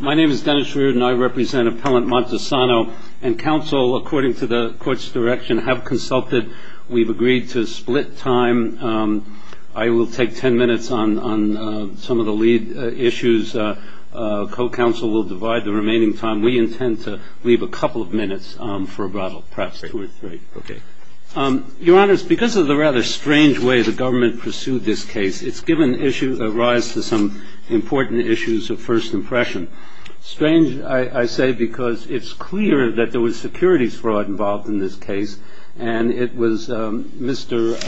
My name is Dennis Reardon. I represent Appellant Montesano and counsel, according to the court's direction, have consulted. We've agreed to split time. I will take ten minutes on some of the lead issues. Co-counsel will divide the remaining time. We intend to leave a couple of minutes for rebuttal, perhaps two or three. Your Honor, because of the rather strange way the government pursued this case, it's given rise to some important issues of first impression. Strange, I say, because it's clear that there was securities fraud involved in this case, and it was Mr.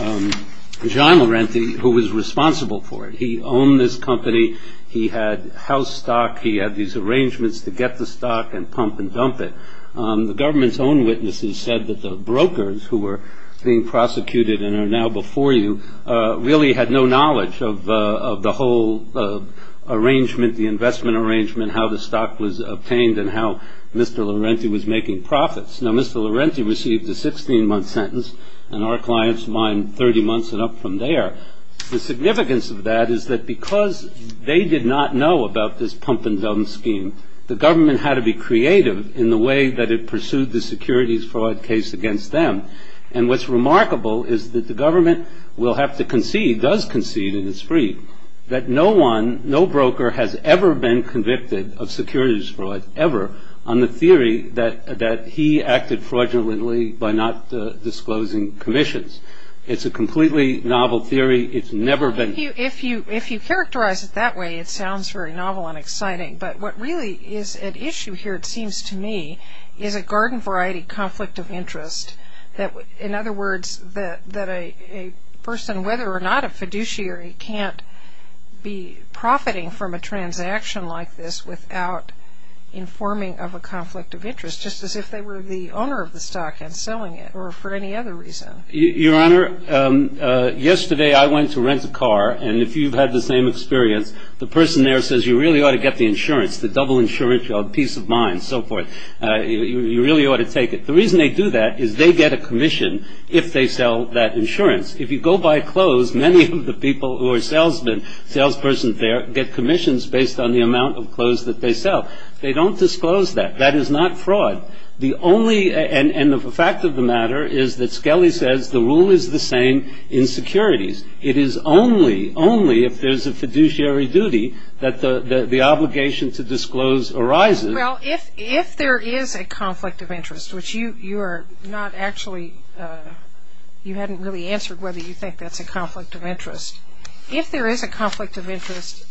John Laurenti who was responsible for it. He owned this company. He had house stock. He had these arrangements to get the stock and pump and dump it. The government's own witnesses said that the brokers who were being prosecuted and are now before you really had no knowledge of the whole arrangement, the investment arrangement, how the stock was obtained, and how Mr. Laurenti was making profits. Now, Mr. Laurenti received a 16-month sentence, and our clients mined 30 months and up from there. The significance of that is that because they did not know about this pump and dump scheme, the government had to be creative in the way that it pursued the securities fraud case against them. And what's remarkable is that the government will have to concede, does concede, and it's free, that no one, no broker has ever been convicted of securities fraud, ever, on the theory that he acted fraudulently by not disclosing commissions. It's a completely novel theory. It's never been... If you characterize it that way, it sounds very novel and exciting. But what really is at issue here, it seems to me, is a garden-variety conflict of interest. In other words, that a person, whether or not a fiduciary, can't be profiting from a transaction like this without informing of a conflict of interest, just as if they were the owner of the stock and selling it, or for any other reason. Your Honor, yesterday I went to rent a car, and if you've had the same experience, the person there says you really ought to get the insurance, the double insurance, the peace of mind, and so forth. You really ought to take it. The reason they do that is they get a commission if they sell that insurance. If you go buy clothes, many of the people who are salesmen, salespersons there, get commissions based on the amount of clothes that they sell. They don't disclose that. That is not fraud. And the fact of the matter is that Skelly says the rule is the same in securities. It is only, only if there's a fiduciary duty that the obligation to disclose arises. Well, if there is a conflict of interest, which you are not actually, you hadn't really answered whether you think that's a conflict of interest. If there is a conflict of interest,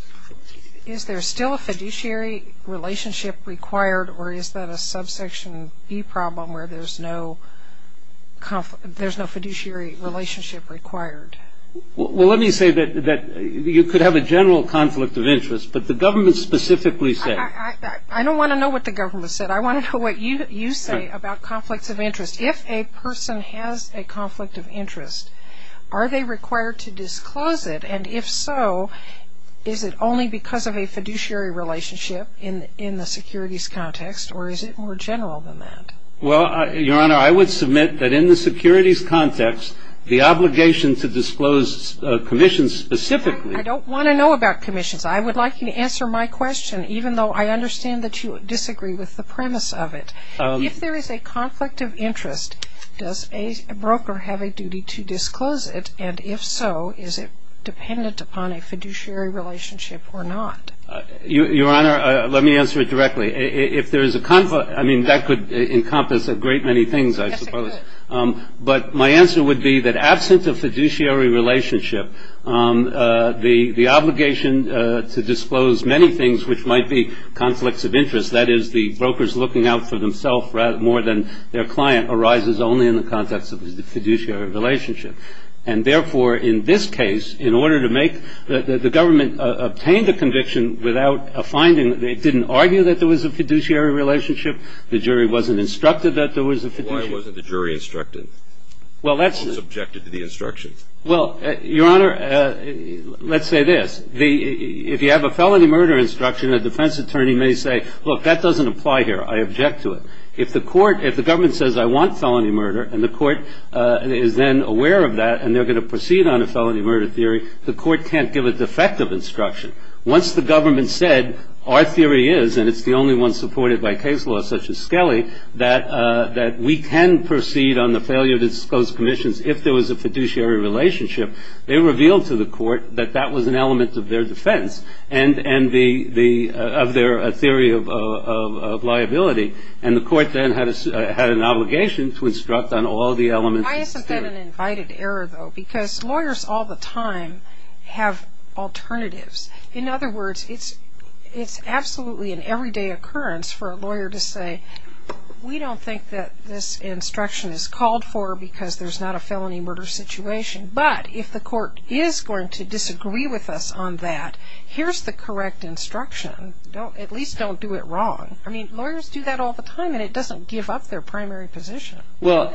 is there still a fiduciary relationship required, or is that a subsection B problem where there's no fiduciary relationship required? Well, let me say that you could have a general conflict of interest, but the government specifically says. I don't want to know what the government said. I want to know what you say about conflicts of interest. If a person has a conflict of interest, are they required to disclose it? And if so, is it only because of a fiduciary relationship in the securities context, or is it more general than that? Well, Your Honor, I would submit that in the securities context, the obligation to disclose commissions specifically. I don't want to know about commissions. I would like you to answer my question, even though I understand that you disagree with the premise of it. If there is a conflict of interest, does a broker have a duty to disclose it? And if so, is it dependent upon a fiduciary relationship or not? Your Honor, let me answer it directly. If there is a conflict, I mean, that could encompass a great many things, I suppose. Yes, it could. But my answer would be that absent a fiduciary relationship, the obligation to disclose many things which might be conflicts of interest, that is the brokers looking out for themselves more than their client, arises only in the context of the fiduciary relationship. And, therefore, in this case, in order to make the government obtain the conviction without a finding, they didn't argue that there was a fiduciary relationship. The jury wasn't instructed that there was a fiduciary relationship. Why wasn't the jury instructed? Well, that's the question. It wasn't subjected to the instruction. Well, Your Honor, let's say this. If you have a felony murder instruction, a defense attorney may say, look, that doesn't apply here. I object to it. If the government says, I want felony murder, and the court is then aware of that and they're going to proceed on a felony murder theory, the court can't give a defective instruction. Once the government said, our theory is, and it's the only one supported by case law such as Skelly, that we can proceed on the failure to disclose commissions if there was a fiduciary relationship, they revealed to the court that that was an element of their defense and of their theory of liability. And the court then had an obligation to instruct on all the elements of the theory. Why isn't that an invited error, though? Because lawyers all the time have alternatives. In other words, it's absolutely an everyday occurrence for a lawyer to say, we don't think that this instruction is called for because there's not a felony murder situation. But if the court is going to disagree with us on that, here's the correct instruction. At least don't do it wrong. I mean, lawyers do that all the time, and it doesn't give up their primary position. Well,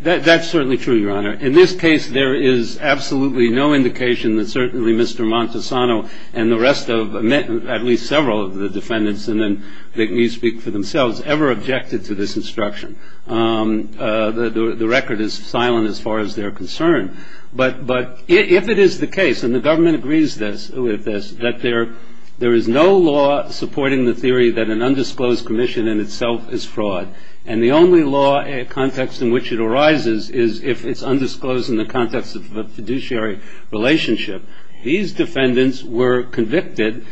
that's certainly true, Your Honor. In this case, there is absolutely no indication that certainly Mr. Montesano and the rest of, at least several of the defendants, and then let me speak for themselves, ever objected to this instruction. The record is silent as far as they're concerned. But if it is the case, and the government agrees with this, that there is no law supporting the theory that an undisclosed commission in itself is fraud. And the only law context in which it arises is if it's undisclosed in the context of a fiduciary relationship. These defendants were convicted,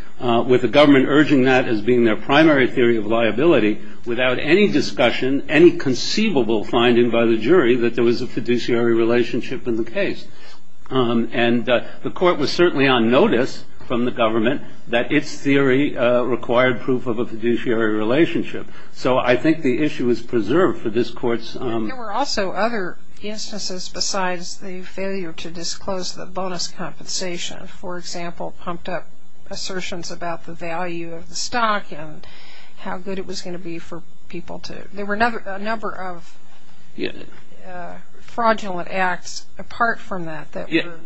with the government urging that as being their primary theory of liability, without any discussion, any conceivable finding by the jury that there was a fiduciary relationship in the case. And the court was certainly on notice from the government that its theory required proof of a fiduciary relationship. So I think the issue is preserved for this court's. There were also other instances besides the failure to disclose the bonus compensation. For example, pumped up assertions about the value of the stock and how good it was going to be for people to. There were a number of fraudulent acts apart from that that were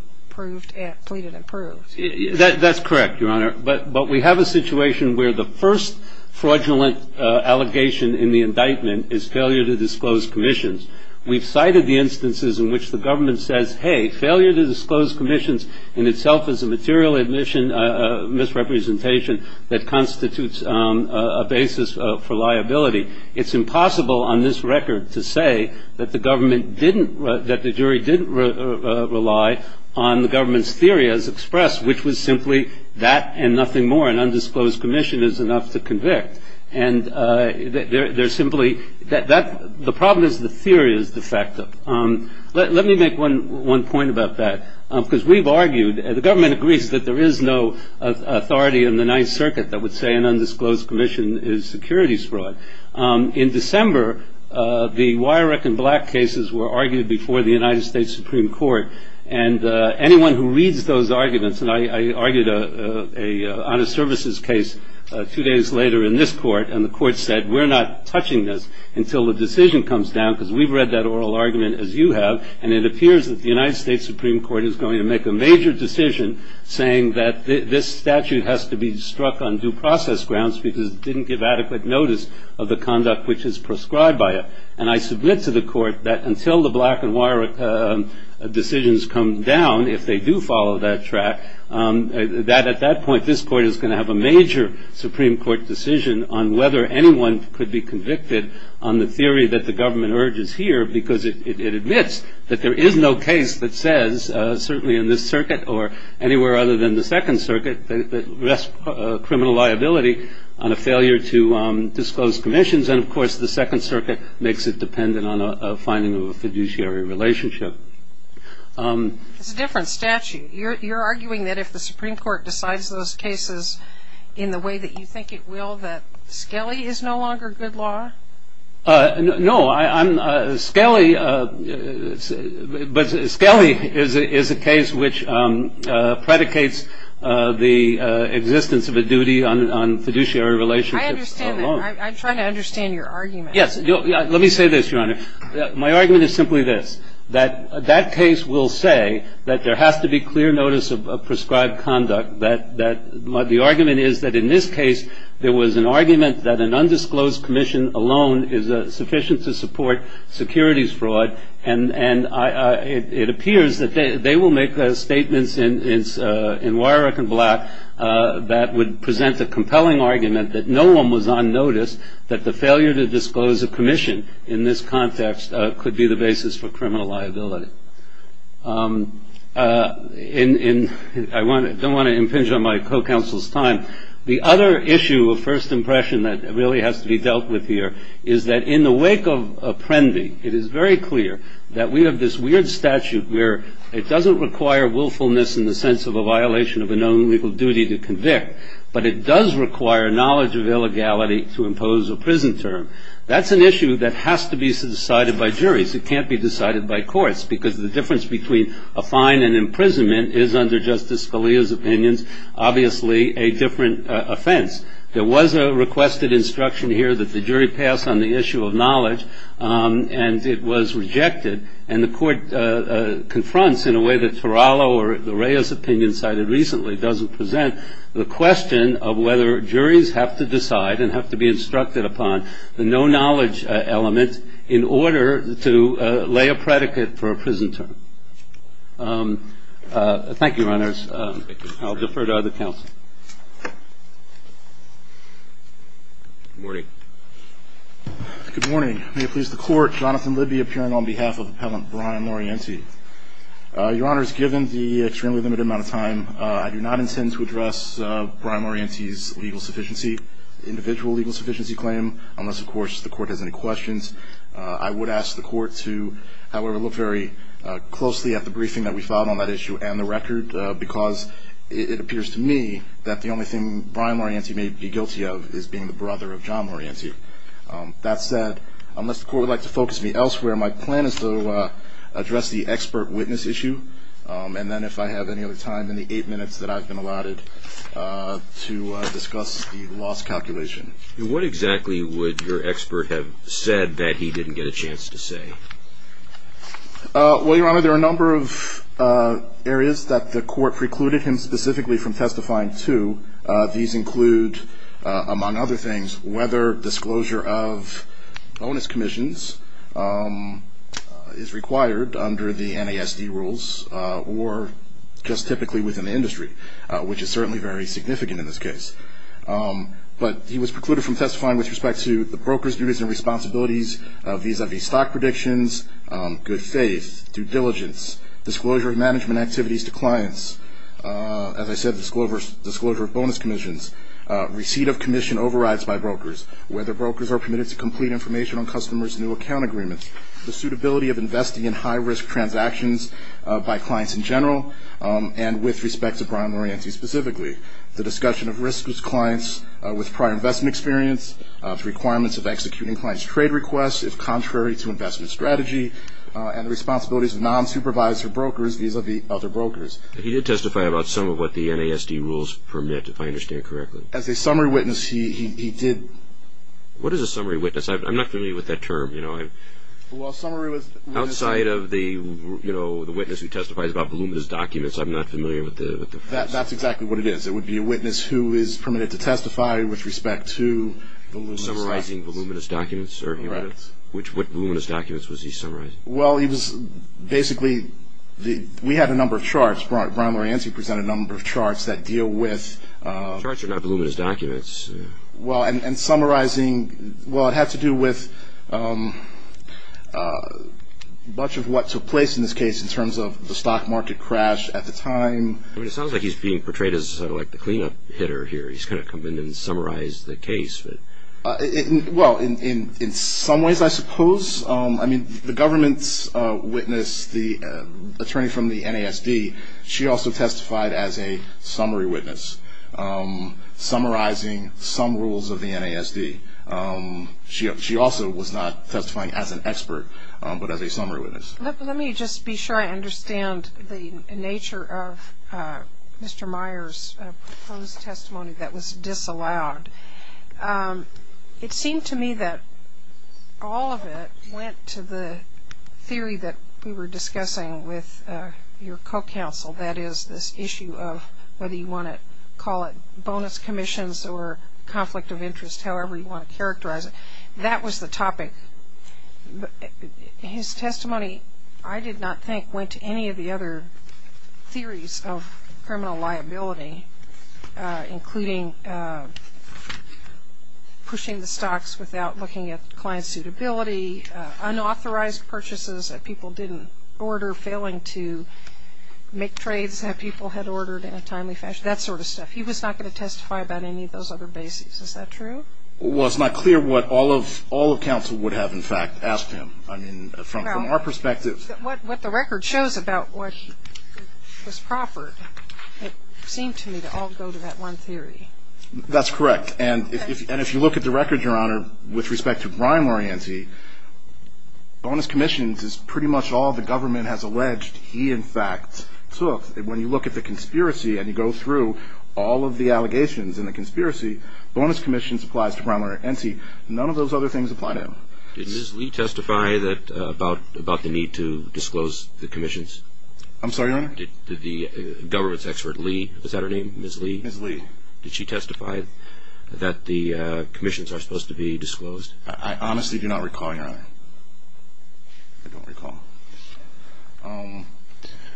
pleaded and proved. That's correct, Your Honor. But we have a situation where the first fraudulent allegation in the indictment is failure to disclose commissions. We've cited the instances in which the government says, hey, failure to disclose commissions in itself is a material misrepresentation that constitutes a basis for liability. It's impossible on this record to say that the government didn't, that the jury didn't rely on the government's theory as expressed, which was simply that and nothing more. An undisclosed commission is enough to convict. And they're simply, the problem is the theory is defective. Let me make one point about that, because we've argued, the government agrees that there is no authority in the Ninth Circuit that would say an undisclosed commission is securities fraud. In December, the wire rack and black cases were argued before the United States Supreme Court. And anyone who reads those arguments, and I argued on a services case two days later in this court, and the court said we're not touching this until the decision comes down, because we've read that oral argument as you have, and it appears that the United States Supreme Court is going to make a major decision saying that this statute has to be struck on due process grounds because it didn't give adequate notice of the conduct which is prescribed by it. And I submit to the court that until the black and wire decisions come down, if they do follow that track, that at that point, this court is going to have a major Supreme Court decision on whether anyone could be convicted on the theory that the government urges here because it admits that there is no case that says, certainly in this circuit or anywhere other than the Second Circuit, that rests criminal liability on a failure to disclose commissions. And, of course, the Second Circuit makes it dependent on a finding of a fiduciary relationship. It's a different statute. You're arguing that if the Supreme Court decides those cases in the way that you think it will, that Scali is no longer good law? No. Scali is a case which predicates the existence of a duty on fiduciary relationships. I understand that. I'm trying to understand your argument. Yes. Let me say this, Your Honor. My argument is simply this, that that case will say that there has to be clear notice of prescribed conduct, that the argument is that in this case, there was an argument that an undisclosed commission alone is sufficient to support securities fraud, and it appears that they will make statements in Wyrick and Black that would present a compelling argument that no one was on notice that the failure to disclose a commission in this context could be the basis for criminal liability. I don't want to impinge on my co-counsel's time. The other issue of first impression that really has to be dealt with here is that in the wake of Prenby, it is very clear that we have this weird statute where it doesn't require willfulness in the sense of a violation of a known legal duty to convict, but it does require knowledge of illegality to impose a prison term. In other words, it can't be decided by courts, because the difference between a fine and imprisonment is, under Justice Scalia's opinions, obviously a different offense. There was a requested instruction here that the jury pass on the issue of knowledge, and it was rejected, and the court confronts in a way that Torello or the Reyes opinion cited recently doesn't present, the question of whether juries have to decide and have to be instructed upon the no-knowledge element in order to lay a predicate for a prison term. Thank you, Your Honors. I'll defer to other counsel. Good morning. Good morning. May it please the Court, Jonathan Libby appearing on behalf of Appellant Brian Morienti. Your Honors, given the extremely limited amount of time, I do not intend to address Brian Morienti's legal sufficiency, individual legal sufficiency claim, unless, of course, the Court has any questions. I would ask the Court to, however, look very closely at the briefing that we filed on that issue and the record, because it appears to me that the only thing Brian Morienti may be guilty of is being the brother of John Morienti. That said, unless the Court would like to focus me elsewhere, my plan is to address the expert witness issue, and then if I have any other time in the eight minutes that I've been allotted, to discuss the loss calculation. What exactly would your expert have said that he didn't get a chance to say? Well, Your Honor, there are a number of areas that the Court precluded him specifically from testifying to. These include, among other things, whether disclosure of bonus commissions is required under the NASD rules or just typically within the industry, which is certainly very significant in this case. But he was precluded from testifying with respect to the broker's duties and responsibilities vis-à-vis stock predictions, good faith, due diligence, disclosure of management activities to clients. As I said, disclosure of bonus commissions, receipt of commission overrides by brokers, whether brokers are permitted to complete information on customers' new account agreements, the suitability of investing in high-risk transactions by clients in general, and with respect to Brian Morienti specifically. The discussion of risk with clients with prior investment experience, the requirements of executing clients' trade requests if contrary to investment strategy, and the responsibilities of non-supervisor brokers vis-à-vis other brokers. He did testify about some of what the NASD rules permit, if I understand correctly. As a summary witness, he did. What is a summary witness? I'm not familiar with that term. Well, a summary witness... Outside of the witness who testifies about voluminous documents, I'm not familiar with the... That's exactly what it is. It would be a witness who is permitted to testify with respect to voluminous documents. Summarizing voluminous documents. Right. What voluminous documents was he summarizing? Well, he was basically... We had a number of charts. Brian Morienti presented a number of charts that deal with... Charts are not voluminous documents. Well, and summarizing... Well, it had to do with much of what took place in this case in terms of the stock market crash at the time. It sounds like he's being portrayed as sort of like the cleanup hitter here. He's going to come in and summarize the case. Well, in some ways, I suppose. I mean, the government's witness, the attorney from the NASD, she also testified as a summary witness, summarizing some rules of the NASD. She also was not testifying as an expert, but as a summary witness. Let me just be sure I understand the nature of Mr. Myers' proposed testimony that was disallowed. It seemed to me that all of it went to the theory that we were discussing with your co-counsel, that is, this issue of whether you want to call it bonus commissions or conflict of interest, however you want to characterize it. That was the topic. His testimony, I did not think, went to any of the other theories of criminal liability, including pushing the stocks without looking at client suitability, unauthorized purchases that people didn't order, failing to make trades that people had ordered in a timely fashion, that sort of stuff. He was not going to testify about any of those other bases. Is that true? Well, it's not clear what all of counsel would have, in fact, asked him. I mean, from our perspective. What the record shows about what was proffered, it seemed to me to all go to that one theory. That's correct. And if you look at the record, Your Honor, with respect to Brian Lorianzi, bonus commissions is pretty much all the government has alleged he, in fact, took. When you look at the conspiracy and you go through all of the allegations in the conspiracy, bonus commissions applies to Brian Lorianzi. None of those other things apply to him. Did Ms. Lee testify about the need to disclose the commissions? I'm sorry, Your Honor? Did the government's expert, Lee, is that her name, Ms. Lee? Ms. Lee. Did she testify that the commissions are supposed to be disclosed? I honestly do not recall, Your Honor. I don't recall.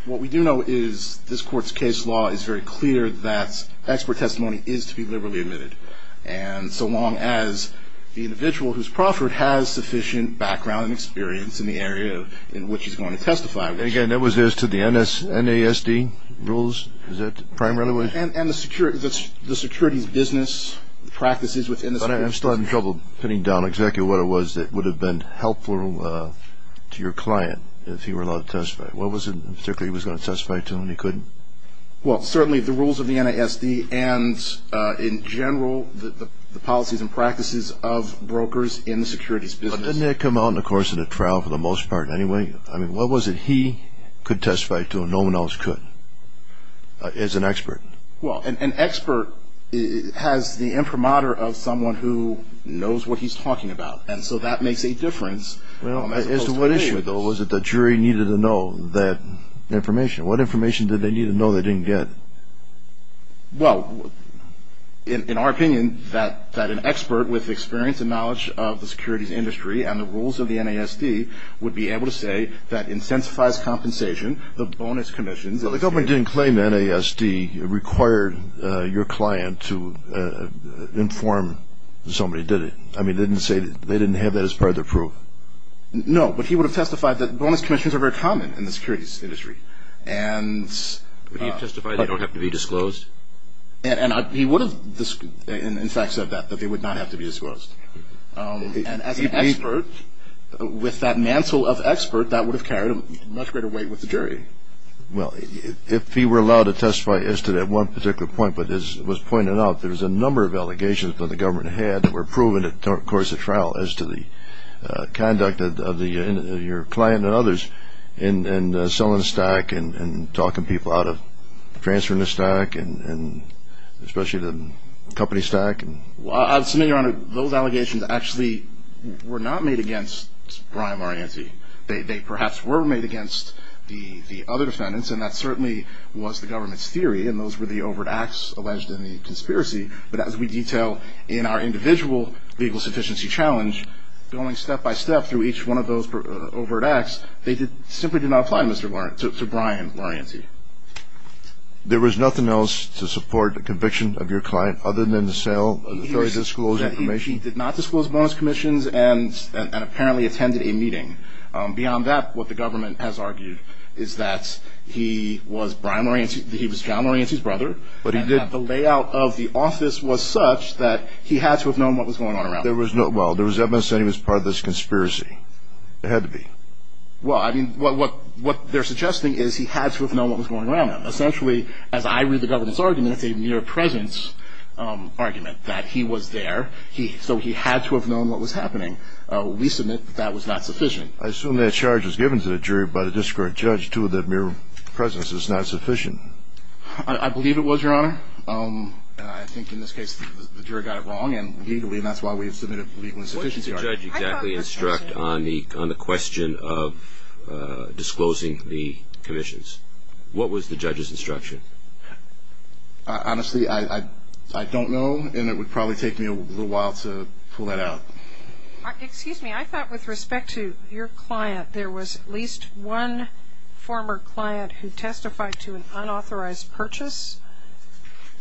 What we do know is this Court's case law is very clear that expert testimony is to be liberally admitted. And so long as the individual who's proffered has sufficient background and experience in the area in which he's going to testify. Again, that was as to the NASD rules? Is that the primary way? Your Honor, I'm still having trouble putting down exactly what it was that would have been helpful to your client if he were allowed to testify. What was it in particular he was going to testify to and he couldn't? Well, certainly the rules of the NASD and, in general, the policies and practices of brokers in the securities business. But didn't that come out in the course of the trial for the most part anyway? I mean, what was it he could testify to and no one else could as an expert? Well, an expert has the imprimatur of someone who knows what he's talking about. And so that makes a difference. Well, as to what issue, though, was it the jury needed to know that information? What information did they need to know they didn't get? Well, in our opinion, that an expert with experience and knowledge of the securities industry and the rules of the NASD would be able to say that your client to inform somebody did it. I mean, they didn't have that as part of their proof. No, but he would have testified that bonus commissions are very common in the securities industry. Would he have testified they don't have to be disclosed? And he would have, in fact, said that, that they would not have to be disclosed. And as an expert, with that mantle of expert, that would have carried a much greater weight with the jury. Well, if he were allowed to testify as to that one particular point, but as was pointed out, there was a number of allegations that the government had that were proven in the course of trial as to the conduct of your client and others in selling the stack and talking people out of transferring the stack and especially the company stack. Well, I'll submit, Your Honor, those allegations actually were not made against Brian Marianti. They perhaps were made against the other defendants, and that certainly was the government's theory, and those were the overt acts alleged in the conspiracy. But as we detail in our individual legal sufficiency challenge, going step-by-step through each one of those overt acts, they simply did not apply to Brian Marianti. There was nothing else to support the conviction of your client other than the sale of the jury's disclosed information? He did not disclose bonus commissions and apparently attended a meeting. Beyond that, what the government has argued is that he was Brian Marianti's brother, but the layout of the office was such that he had to have known what was going on around him. Well, there was evidence that he was part of this conspiracy. There had to be. Well, I mean, what they're suggesting is he had to have known what was going on around him. Essentially, as I read the government's argument, it's a mere presence argument that he was there. So he had to have known what was happening. We submit that that was not sufficient. I assume that charge was given to the jury by the discord judge, too, that mere presence is not sufficient. I believe it was, Your Honor. I think in this case the jury got it wrong, and that's why we have submitted a legal insufficiency charge. What did the judge exactly instruct on the question of disclosing the commissions? What was the judge's instruction? Honestly, I don't know, and it would probably take me a little while to pull that out. Excuse me. I thought with respect to your client there was at least one former client who testified to an unauthorized purchase.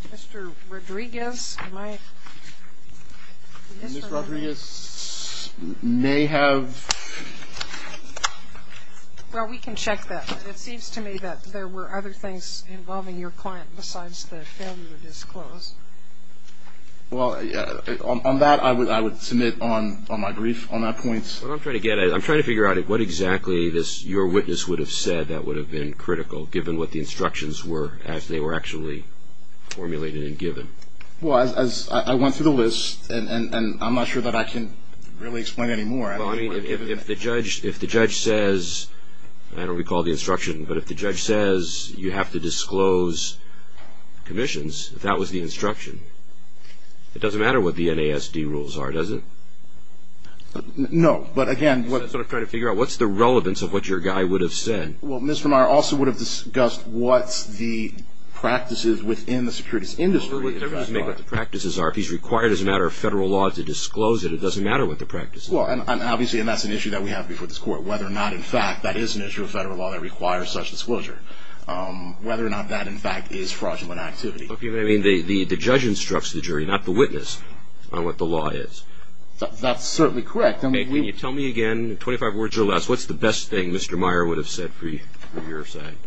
Mr. Rodriguez, am I? Ms. Rodriguez may have. Well, we can check that. It seems to me that there were other things involving your client besides the failure to disclose. Well, on that I would submit on my brief on that point. What I'm trying to get at, I'm trying to figure out what exactly your witness would have said that would have been critical, given what the instructions were as they were actually formulated and given. Well, I went through the list, and I'm not sure that I can really explain any more. Well, I mean, if the judge says, I don't recall the instruction, but if the judge says you have to disclose commissions, if that was the instruction, it doesn't matter what the NASD rules are, does it? No, but again. Is that sort of trying to figure out what's the relevance of what your guy would have said? Well, Ms. Vermeyer also would have discussed what the practices within the securities industry are. He doesn't make what the practices are. If he's required as a matter of federal law to disclose it, it doesn't matter what the practices are. Well, and obviously that's an issue that we have before this court, whether or not in fact that is an issue of federal law that requires such disclosure, whether or not that in fact is fraudulent activity. I mean, the judge instructs the jury, not the witness, on what the law is. That's certainly correct. Tell me again, in 25 words or less, what's the best thing Mr. Meyer would have said for your side?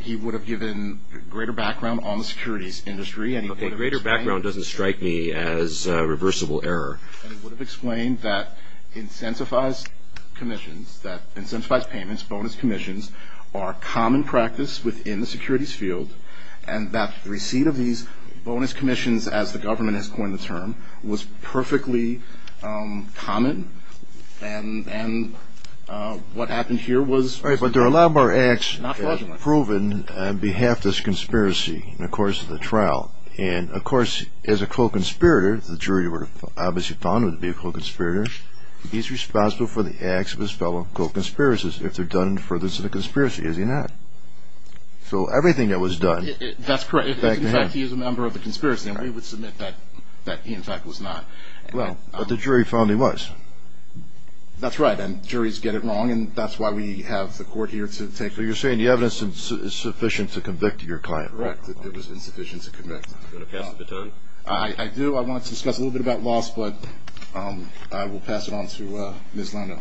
He would have given greater background on the securities industry. Okay, greater background doesn't strike me as reversible error. And he would have explained that incentivized commissions, that incentivized payments, bonus commissions are common practice within the securities field, and that the receipt of these bonus commissions, as the government has coined the term, was perfectly common, and what happened here was But there are a lot more acts proven on behalf of this conspiracy in the course of the trial. And, of course, as a co-conspirator, the jury would have obviously found him to be a co-conspirator, he's responsible for the acts of his fellow co-conspirators if they're done for this conspiracy, is he not? So everything that was done That's correct. In fact, he is a member of the conspiracy, and we would submit that he in fact was not. Well, but the jury found he was. That's right, and juries get it wrong, and that's why we have the court here to take So you're saying the evidence is sufficient to convict your client? Correct, that it was insufficient to convict. Do you want to pass the baton? I do. I want to discuss a little bit about loss, but I will pass it on to Ms. Lando.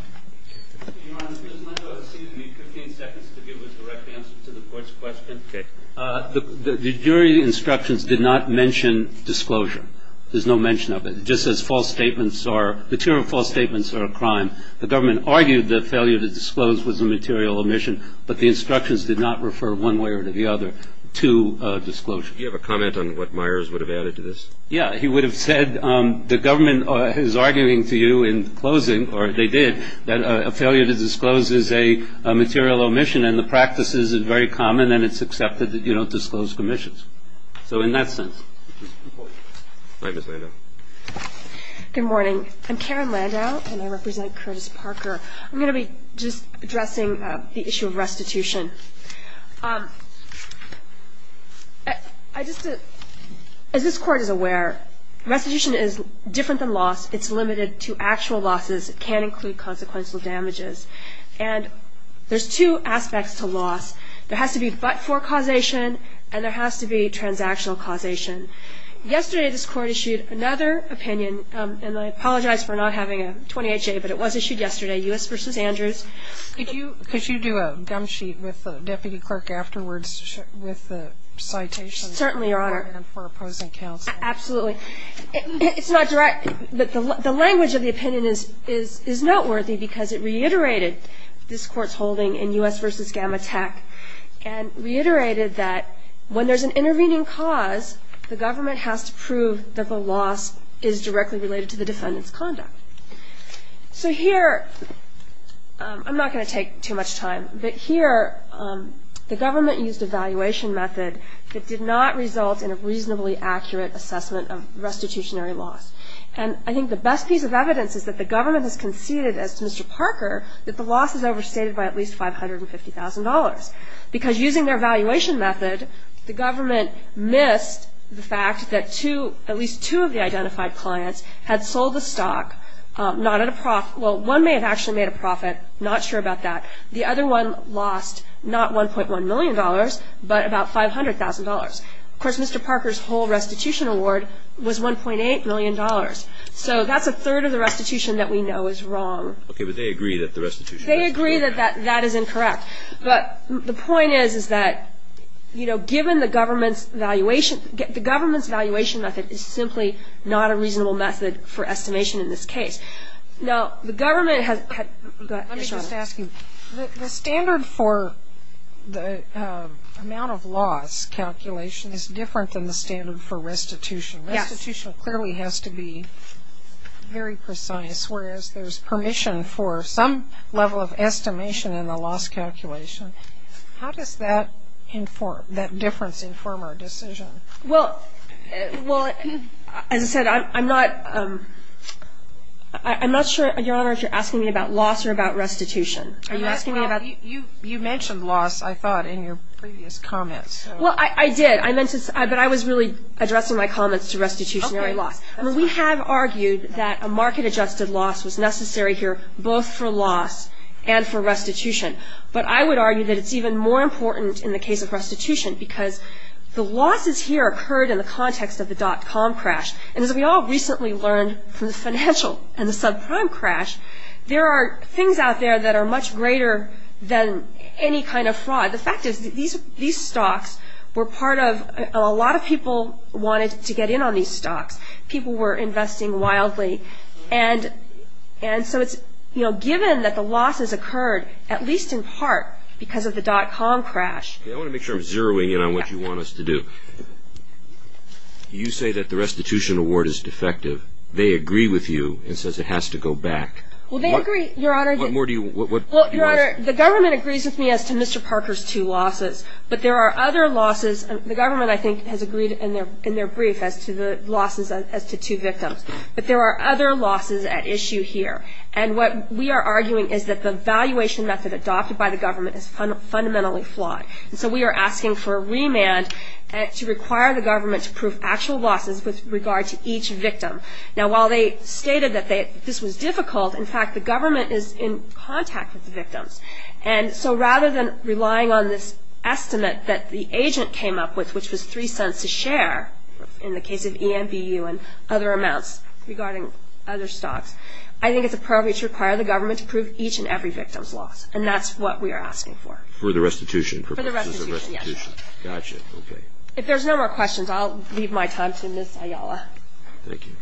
Your Honor, Ms. Lando has ceded me 15 seconds to give a direct answer to the court's question. Okay. The jury instructions did not mention disclosure. There's no mention of it. Just as false statements are, material false statements are a crime. The government argued the failure to disclose was a material omission, but the instructions did not refer one way or the other to disclosure. Do you have a comment on what Myers would have added to this? Yeah, he would have said the government is arguing to you in closing, or they did, that a failure to disclose is a material omission, and the practice is very common, and it's accepted that you don't disclose commissions. So in that sense. All right, Ms. Lando. Good morning. I'm Karen Lando, and I represent Curtis Parker. I'm going to be just addressing the issue of restitution. As this Court is aware, restitution is different than loss. It's limited to actual losses. It can include consequential damages. And there's two aspects to loss. There has to be but-for causation, and there has to be transactional causation. Yesterday, this Court issued another opinion, and I apologize for not having a 28-J, but it was issued yesterday, U.S. v. Andrews. Could you do a gum sheet with the deputy clerk afterwards with the citation? Certainly, Your Honor. And for opposing counsel. Absolutely. It's not direct. The language of the opinion is noteworthy because it reiterated this Court's holding in U.S. v. Gamma Tech and reiterated that when there's an intervening cause, the government has to prove that the loss is directly related to the defendant's conduct. So here, I'm not going to take too much time, but here the government used a valuation method that did not result in a reasonably accurate assessment of restitutionary loss. And I think the best piece of evidence is that the government has conceded, as to Mr. Parker, that the loss is overstated by at least $550,000. Because using their valuation method, the government missed the fact that at least two of the identified clients had sold the stock. Well, one may have actually made a profit, not sure about that. The other one lost not $1.1 million, but about $500,000. Of course, Mr. Parker's whole restitution award was $1.8 million. So that's a third of the restitution that we know is wrong. Okay, but they agree that the restitution... They agree that that is incorrect. But the point is, is that given the government's valuation method is simply not a reasonable method for estimation in this case. Now, the government has... Let me just ask you, the standard for the amount of loss calculation is different than the standard for restitution. Yes. Restitution clearly has to be very precise, whereas there's permission for some level of estimation in the loss calculation. How does that difference inform our decision? Well, as I said, I'm not sure, Your Honor, if you're asking me about loss or about restitution. You mentioned loss, I thought, in your previous comments. Well, I did, but I was really addressing my comments to restitutionary loss. We have argued that a market-adjusted loss was necessary here, both for loss and for restitution. But I would argue that it's even more important in the case of restitution because the losses here occurred in the context of the dot-com crash. And as we all recently learned from the financial and the subprime crash, there are things out there that are much greater than any kind of fraud. The fact is these stocks were part of a lot of people wanted to get in on these stocks. People were investing wildly. And so it's, you know, given that the losses occurred, at least in part because of the dot-com crash. I want to make sure I'm zeroing in on what you want us to do. You say that the restitution award is defective. They agree with you and says it has to go back. What more do you want to say? Well, Your Honor, the government agrees with me as to Mr. Parker's two losses. But there are other losses. The government, I think, has agreed in their brief as to the losses as to two victims. But there are other losses at issue here. And what we are arguing is that the valuation method adopted by the government is fundamentally flawed. And so we are asking for a remand to require the government to prove actual losses with regard to each victim. Now, while they stated that this was difficult, in fact, the government is in contact with the victims. And so rather than relying on this estimate that the agent came up with, which was three cents to share in the case of EMBU and other amounts regarding other stocks, I think it's appropriate to require the government to prove each and every victim's loss. And that's what we are asking for. For the restitution purposes? For the restitution, yes. Got you. Okay. If there's no more questions, I'll leave my time to Ms. Ayala. Thank you.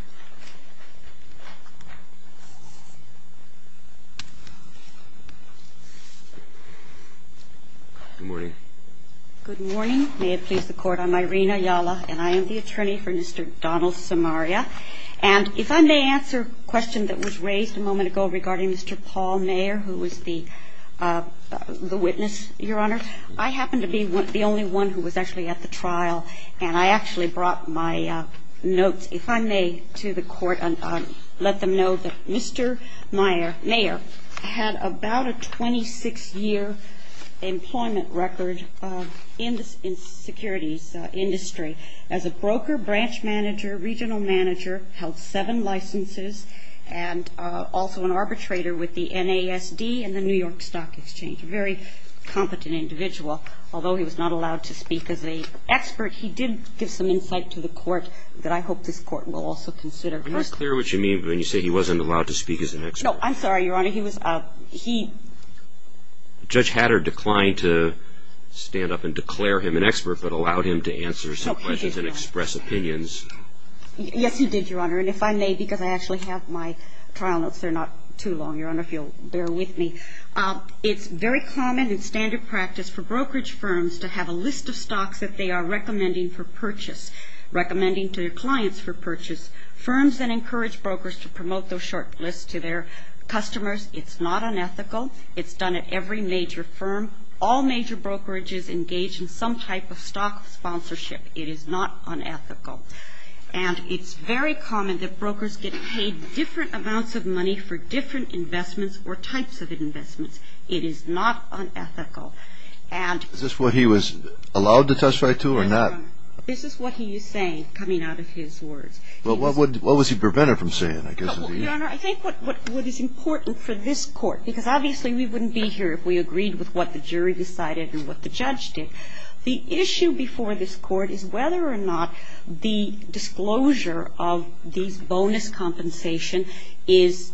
Good morning. Good morning. May it please the Court. I'm Irina Ayala, and I am the attorney for Mr. Donald Samaria. And if I may answer a question that was raised a moment ago regarding Mr. Paul Mayer, who was the witness, Your Honor. I happen to be the only one who was actually at the trial, and I actually brought my notes, if I may, to the Court and let them know that Mr. Mayer had about a 26-year employment record in the securities industry as a broker, branch manager, regional manager, held seven licenses, and also an arbitrator with the NASD and the New York Stock Exchange, a very competent individual. Although he was not allowed to speak as an expert, he did give some insight to the Court that I hope this Court will also consider. I'm not clear what you mean when you say he wasn't allowed to speak as an expert. No, I'm sorry, Your Honor. Judge Hatter declined to stand up and declare him an expert, but allowed him to answer some questions and express opinions. Yes, he did, Your Honor. And if I may, because I actually have my trial notes. They're not too long, Your Honor, if you'll bear with me. It's very common and standard practice for brokerage firms to have a list of stocks that they are recommending for purchase, recommending to their clients for purchase. Firms then encourage brokers to promote those short lists to their customers. It's not unethical. It's done at every major firm. All major brokerages engage in some type of stock sponsorship. It is not unethical. And it's very common that brokers get paid different amounts of money for different investments or types of investments. It is not unethical. Is this what he was allowed to testify to or not? Yes, Your Honor. This is what he is saying coming out of his words. Well, what was he prevented from saying, I guess? Well, Your Honor, I think what is important for this Court, because obviously we wouldn't be here if we agreed with what the jury decided and what the judge did, the issue before this Court is whether or not the disclosure of these bonus compensation is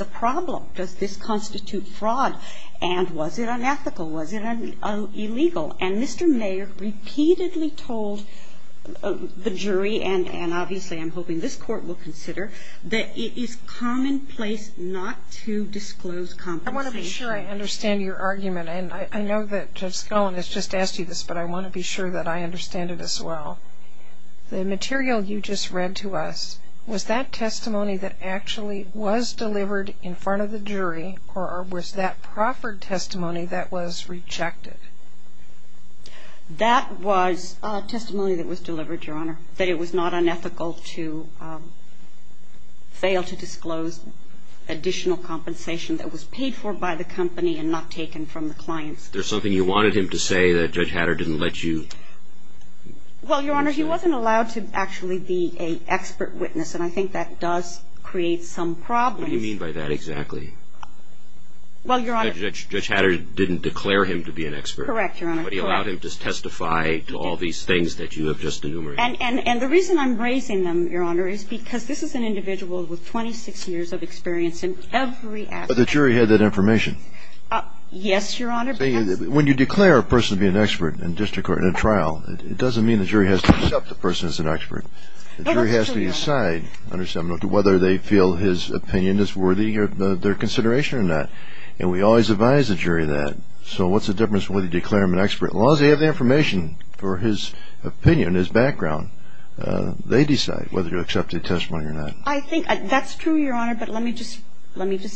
a problem. Does this constitute fraud? And was it unethical? Was it illegal? And Mr. Mayer repeatedly told the jury, and obviously I'm hoping this Court will consider, that it is commonplace not to disclose compensation. I want to be sure I understand your argument. And I know that Judge Cohen has just asked you this, but I want to be sure that I understand it as well. The material you just read to us, was that testimony that actually was delivered in front of the jury, or was that proffered testimony that was rejected? That was testimony that was delivered, Your Honor, that it was not unethical to fail to disclose additional compensation that was paid for by the company and not taken from the clients. There's something you wanted him to say that Judge Hatter didn't let you? Well, Your Honor, he wasn't allowed to actually be an expert witness, and I think that does create some problems. What do you mean by that exactly? Judge Hatter didn't declare him to be an expert. Correct, Your Honor. But he allowed him to testify to all these things that you have just enumerated. And the reason I'm raising them, Your Honor, is because this is an individual with 26 years of experience in every aspect. But the jury had that information. Yes, Your Honor. When you declare a person to be an expert in district court in a trial, it doesn't mean the jury has to accept the person as an expert. The jury has to decide whether they feel his opinion is worthy of their consideration or not. And we always advise the jury that. So what's the difference whether you declare him an expert? As long as they have the information for his opinion, his background, they decide whether you accept the testimony or not. I think that's true, Your Honor. But let me just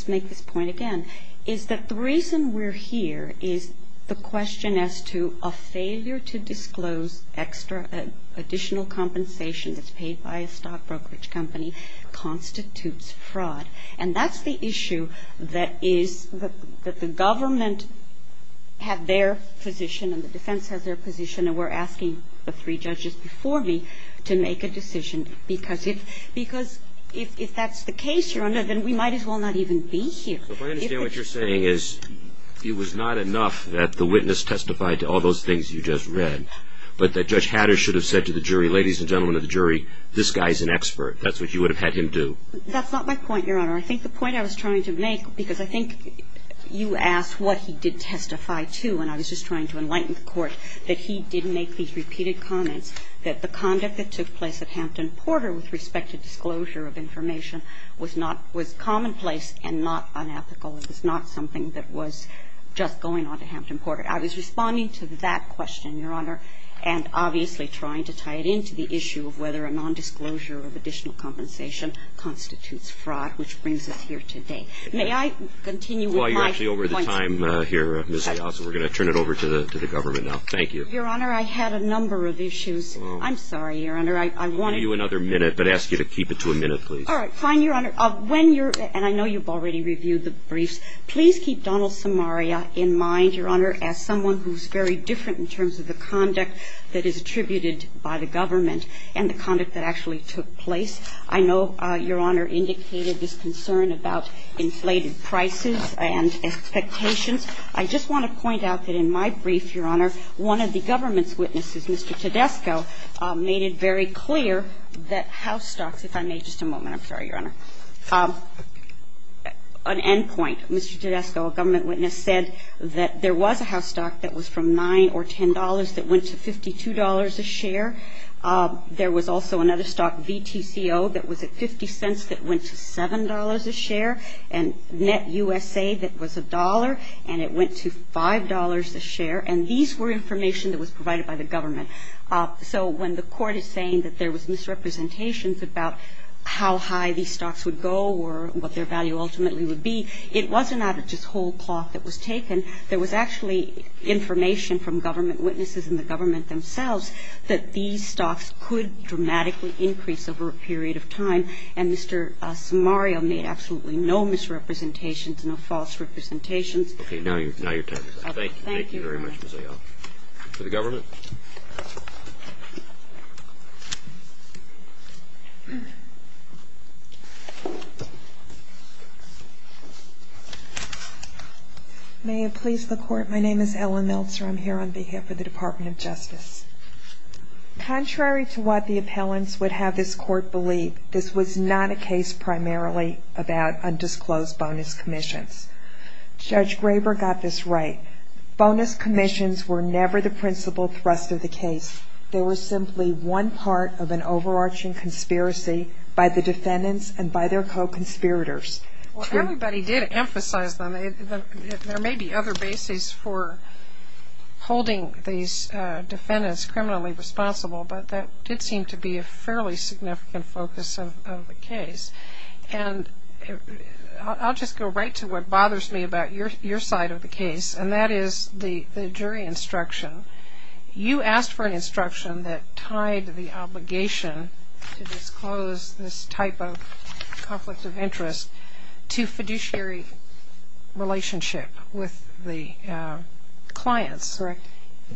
make this point again, is that the reason we're here is the question as to a failure to disclose extra additional compensation that's paid by a stockbrokerage company constitutes fraud. And that's the issue that is the government had their position and the defense has their position and we're asking the three judges before me to make a decision. Because if that's the case, Your Honor, then we might as well not even be here. If I understand what you're saying is it was not enough that the witness testified to all those things you just read, but that Judge Hatters should have said to the jury, ladies and gentlemen of the jury, this guy's an expert. That's what you would have had him do. That's not my point, Your Honor. I think the point I was trying to make, because I think you asked what he did testify to and I was just trying to enlighten the Court, that he did make these repeated comments that the conduct that took place at Hampton Porter with respect to disclosure of information was not – was commonplace and not unethical. It was not something that was just going on to Hampton Porter. I was responding to that question, Your Honor, and obviously trying to tie it into the issue of whether a nondisclosure of additional compensation constitutes fraud, which brings us here today. May I continue with my points of view? Yes, Your Honor. We're going to turn it over to the government now. Thank you. Your Honor, I had a number of issues. I'm sorry, Your Honor. I want to – I'll give you another minute, but ask you to keep it to a minute, please. All right. Fine, Your Honor. When you're – and I know you've already reviewed the briefs. Please keep Donald Samaria in mind, Your Honor, as someone who's very different in terms of the conduct that is attributed by the government and the conduct that actually took place. I know Your Honor indicated this concern about inflated prices and expectations. I just want to point out that in my brief, Your Honor, one of the government's witnesses, Mr. Tedesco, made it very clear that house stocks – if I may, just a moment. I'm sorry, Your Honor. An end point. Mr. Tedesco, a government witness, said that there was a house stock that was from $9 or $10 that went to $52 a share. There was also another stock, VTCO, that was at 50 cents that went to $7 a share, and NetUSA that was $1, and it went to $5 a share. And these were information that was provided by the government. So when the Court is saying that there was misrepresentations about how high these stocks would go or what their value ultimately would be, it wasn't out of just whole cloth that was taken. There was actually information from government witnesses and the government themselves that these stocks could dramatically increase over a period of time. And Mr. Samario made absolutely no misrepresentations, no false representations. Okay. Now your time is up. Thank you very much, Ms. Ayala. Thank you, Your Honor. To the government. May it please the Court, my name is Ellen Meltzer. I'm here on behalf of the Department of Justice. Contrary to what the appellants would have this Court believe, this was not a case primarily about undisclosed bonus commissions. Judge Graber got this right. Bonus commissions were never the principal thrust of the case. They were simply one part of an overarching conspiracy by the defendants and by their co-conspirators. Well, everybody did emphasize them. There may be other bases for holding these defendants criminally responsible, but that did seem to be a fairly significant focus of the case. And I'll just go right to what bothers me about your side of the case, and that is the jury instruction. You asked for an instruction that tied the obligation to disclose this type of conflict of interest to fiduciary relationship with the clients. Correct.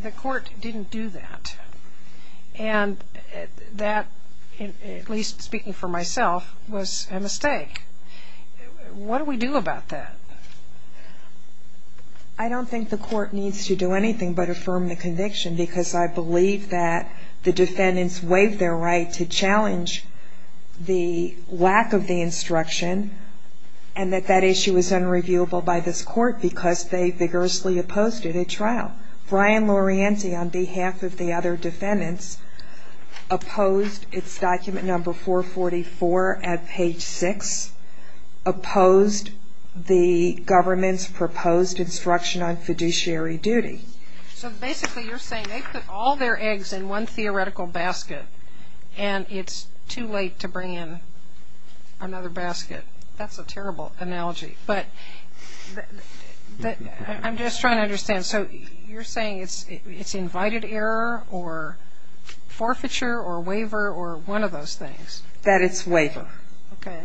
The Court didn't do that. And that, at least speaking for myself, was a mistake. What do we do about that? I don't think the Court needs to do anything but affirm the conviction because I believe that the defendants waived their right to challenge the lack of the instruction and that that issue is unreviewable by this Court because they vigorously opposed it at trial. Brian Laureanti, on behalf of the other defendants, opposed its document number 444 at page 6, opposed the government's proposed instruction on fiduciary duty. So basically you're saying they put all their eggs in one theoretical basket and it's too late to bring in another basket. That's a terrible analogy. But I'm just trying to understand. So you're saying it's invited error or forfeiture or waiver or one of those things? That it's waiver. Okay.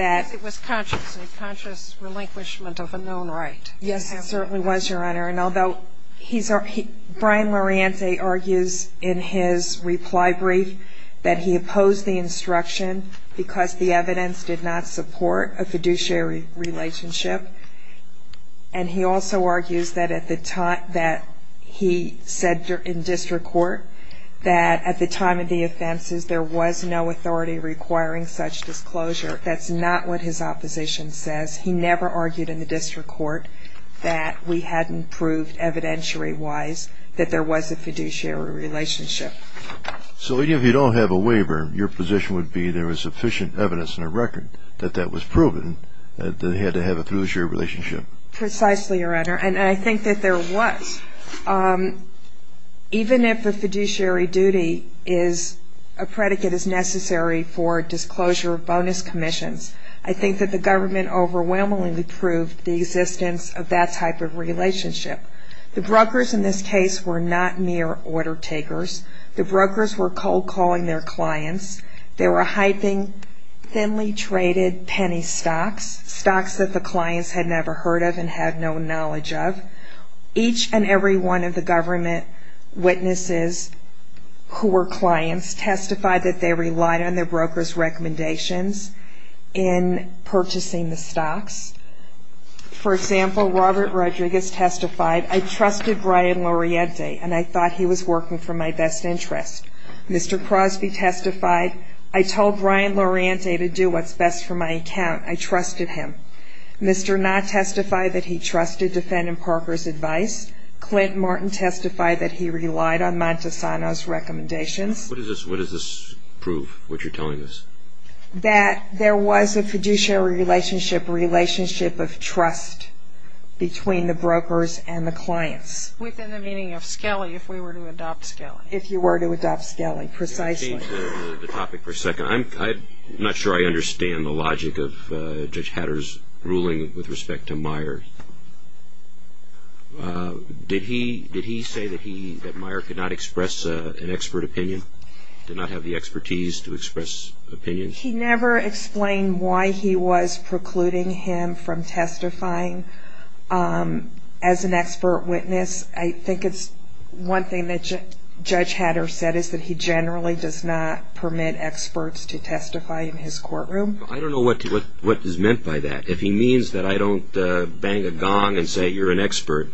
It was conscious, a conscious relinquishment of a known right. Yes, it certainly was, Your Honor. Brian Laureanti argues in his reply brief that he opposed the instruction because the evidence did not support a fiduciary relationship. And he also argues that he said in district court that at the time of the offenses, there was no authority requiring such disclosure. That's not what his opposition says. He never argued in the district court that we hadn't proved evidentiary-wise that there was a fiduciary relationship. So even if you don't have a waiver, your position would be there was sufficient evidence in the record that that was proven that they had to have a fiduciary relationship. Precisely, Your Honor. And I think that there was. Even if a fiduciary duty is a predicate as necessary for disclosure of bonus commissions, I think that the government overwhelmingly proved the existence of that type of relationship. The brokers in this case were not mere order-takers. The brokers were cold-calling their clients. They were hyping thinly-traded penny stocks, stocks that the clients had never heard of and had no knowledge of. Each and every one of the government witnesses who were clients testified that they relied on their broker's recommendations in purchasing the stocks. For example, Robert Rodriguez testified, I trusted Brian Laureate and I thought he was working for my best interest. Mr. Crosby testified, I told Brian Laureate to do what's best for my account. I trusted him. Mr. Knott testified that he trusted defendant Parker's advice. Clint Martin testified that he relied on Montesano's recommendations. What does this prove, what you're telling us? That there was a fiduciary relationship, a relationship of trust between the brokers and the clients. Within the meaning of Skelly, if we were to adopt Skelly. If you were to adopt Skelly, precisely. Change the topic for a second. I'm not sure I understand the logic of Judge Hatter's ruling with respect to Meyer. Did he say that Meyer could not express an expert opinion? Did not have the expertise to express opinions? He never explained why he was precluding him from testifying as an expert witness. I think it's one thing that Judge Hatter said, is that he generally does not permit experts to testify in his courtroom. I don't know what is meant by that. If he means that I don't bang a gong and say you're an expert.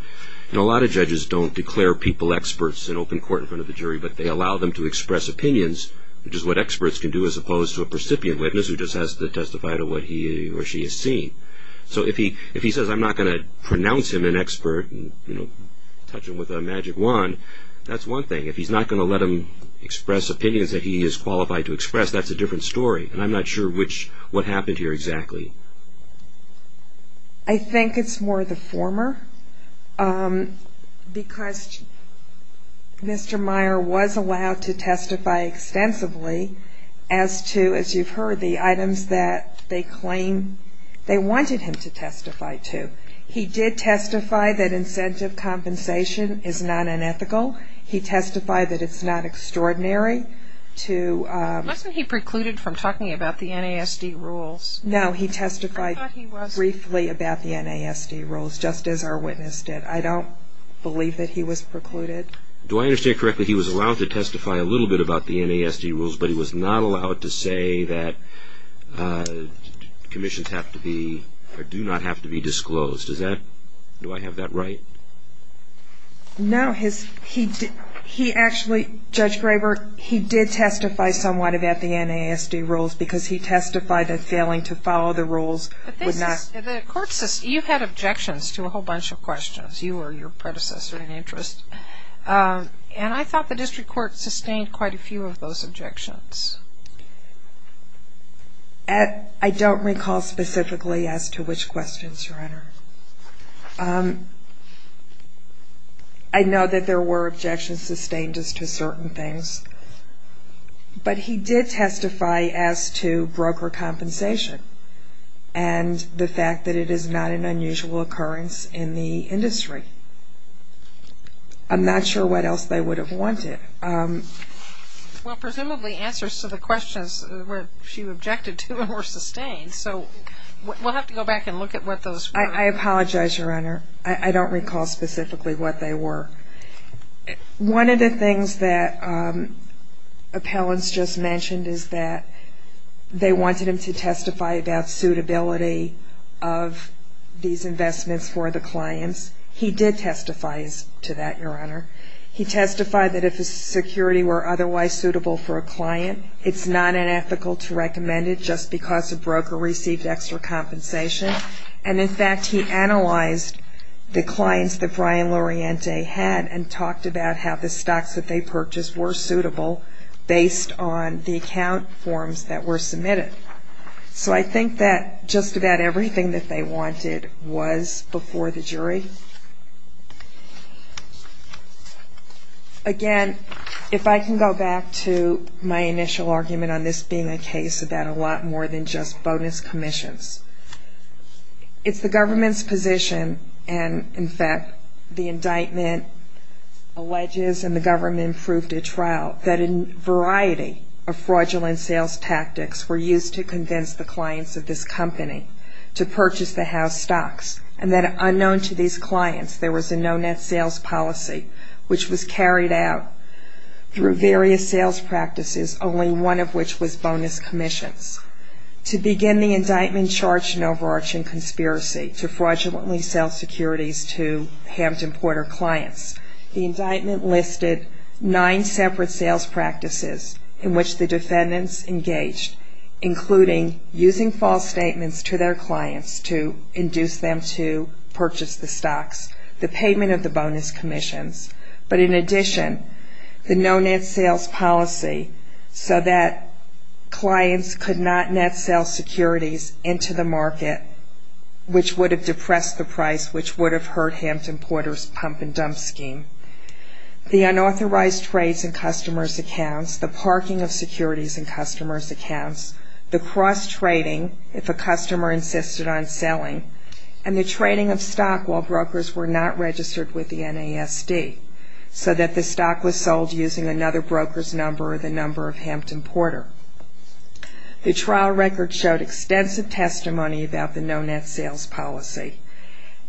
A lot of judges don't declare people experts in open court in front of the jury, but they allow them to express opinions, which is what experts can do as opposed to a precipient witness who just has to testify to what he or she has seen. If he says I'm not going to pronounce him an expert, touch him with a magic wand, that's one thing. If he's not going to let him express opinions that he is qualified to express, that's a different story. And I'm not sure what happened here exactly. I think it's more the former. Because Mr. Meyer was allowed to testify extensively as to, as you've heard, the items that they claim they wanted him to testify to. He did testify that incentive compensation is not unethical. He testified that it's not extraordinary to... Wasn't he precluded from talking about the NASD rules? No, he testified briefly about the NASD rules, just as our witness did. I don't believe that he was precluded. Do I understand correctly he was allowed to testify a little bit about the NASD rules, but he was not allowed to say that commissions do not have to be disclosed? Do I have that right? No. Judge Graber, he did testify somewhat about the NASD rules because he testified that failing to follow the rules would not... You've had objections to a whole bunch of questions. You were your predecessor in interest. And I thought the district court sustained quite a few of those objections. I don't recall specifically as to which questions, Your Honor. I know that there were objections sustained as to certain things, but he did testify as to broker compensation and the fact that it is not an unusual occurrence in the industry. I'm not sure what else they would have wanted. Well, presumably answers to the questions she objected to were sustained. So we'll have to go back and look at what those were. I apologize, Your Honor. I don't recall specifically what they were. One of the things that appellants just mentioned is that they wanted him to testify about suitability of these investments for the clients. He did testify to that, Your Honor. He testified that if his security were otherwise suitable for a client, it's not unethical to recommend it just because a broker received extra compensation. And, in fact, he analyzed the clients that Brian Laureante had and talked about how the stocks that they purchased were suitable based on the account forms that were submitted. So I think that just about everything that they wanted was before the jury. Again, if I can go back to my initial argument on this being a case about a lot more than just bonus commissions, it's the government's position and, in fact, the indictment alleges and the government proved at trial that a variety of fraudulent sales tactics were used to convince the clients of this company to purchase the house stocks and that, unknown to these clients, there was a no net sales policy which was carried out through various sales practices, only one of which was bonus commissions. To begin the indictment charged an overarching conspiracy to fraudulently sell securities to Hampton Porter clients. The indictment listed nine separate sales practices in which the defendants engaged, including using false statements to their clients to induce them to purchase the stocks, the payment of the bonus commissions, but in addition, the no net sales policy so that clients could not net sell securities into the market, which would have depressed the price, which would have hurt Hampton Porter's pump and dump scheme. The unauthorized trades in customers' accounts, the parking of securities in customers' accounts, the cross-trading if a customer insisted on selling, and the trading of stock while brokers were not registered with the NASD so that the stock was sold using another broker's number or the number of Hampton Porter. The trial record showed extensive testimony about the no net sales policy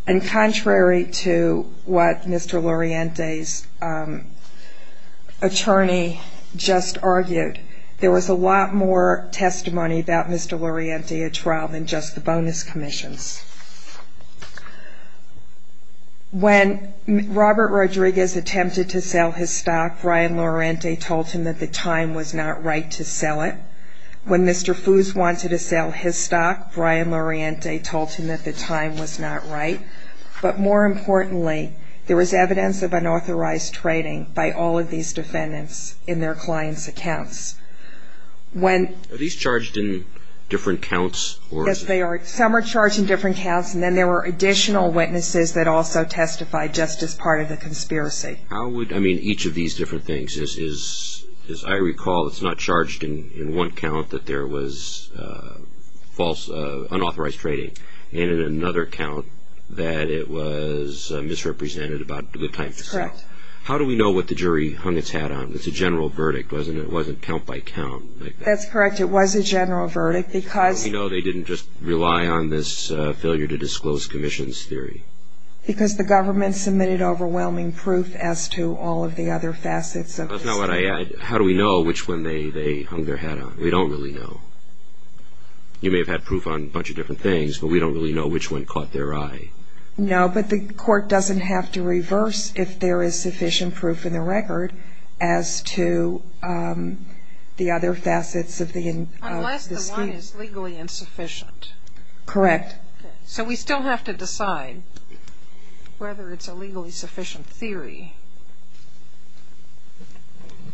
and contrary to what Mr. Loriente's attorney just argued, there was a lot more testimony about Mr. Loriente at trial than just the bonus commissions. When Robert Rodriguez attempted to sell his stock, Brian Loriente told him that the time was not right to sell it. When Mr. Foose wanted to sell his stock, Brian Loriente told him that the time was not right. But more importantly, there was evidence of unauthorized trading by all of these defendants in their clients' accounts. Are these charged in different counts? Yes, they are. Some are charged in different counts, and then there were additional witnesses that also testified just as part of the conspiracy. How would each of these different things, as I recall, it's not charged in one count that there was unauthorized trading and in another count that it was misrepresented about the time to sell? That's correct. How do we know what the jury hung its hat on? It's a general verdict, wasn't it? It wasn't count by count like that. That's correct. It was a general verdict because How do we know they didn't just rely on this failure to disclose commissions theory? Because the government submitted overwhelming proof as to all of the other facets of this theory. That's not what I asked. How do we know which one they hung their hat on? We don't really know. You may have had proof on a bunch of different things, but we don't really know which one caught their eye. No, but the court doesn't have to reverse if there is sufficient proof in the record as to the other facets of this theory. Unless the one is legally insufficient. Correct. So we still have to decide whether it's a legally sufficient theory.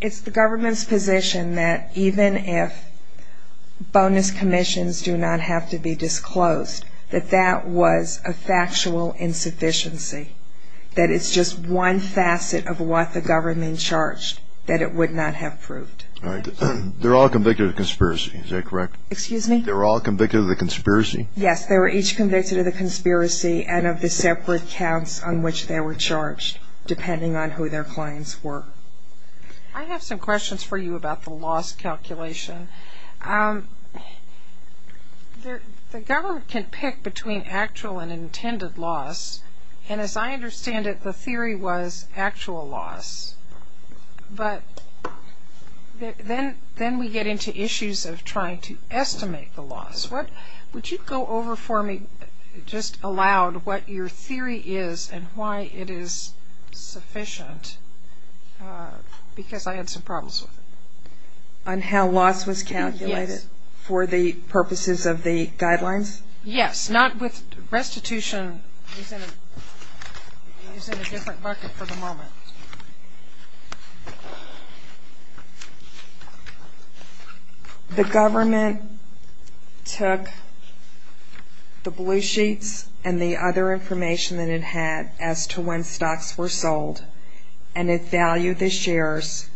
It's the government's position that even if bonus commissions do not have to be disclosed, that that was a factual insufficiency, that it's just one facet of what the government charged that it would not have proved. They're all convicted of conspiracy, is that correct? Excuse me? They're all convicted of the conspiracy? Yes, they were each convicted of the conspiracy and of the separate counts on which they were charged, depending on who their clients were. I have some questions for you about the loss calculation. The government can pick between actual and intended loss, and as I understand it, the theory was actual loss. But then we get into issues of trying to estimate the loss. Would you go over for me just aloud what your theory is and why it is sufficient? Because I had some problems with it. On how loss was calculated for the purposes of the guidelines? Yes. Restitution is in a different bucket for the moment. The government took the blue sheets and the other information that it had as to when stocks were sold, and it valued the shares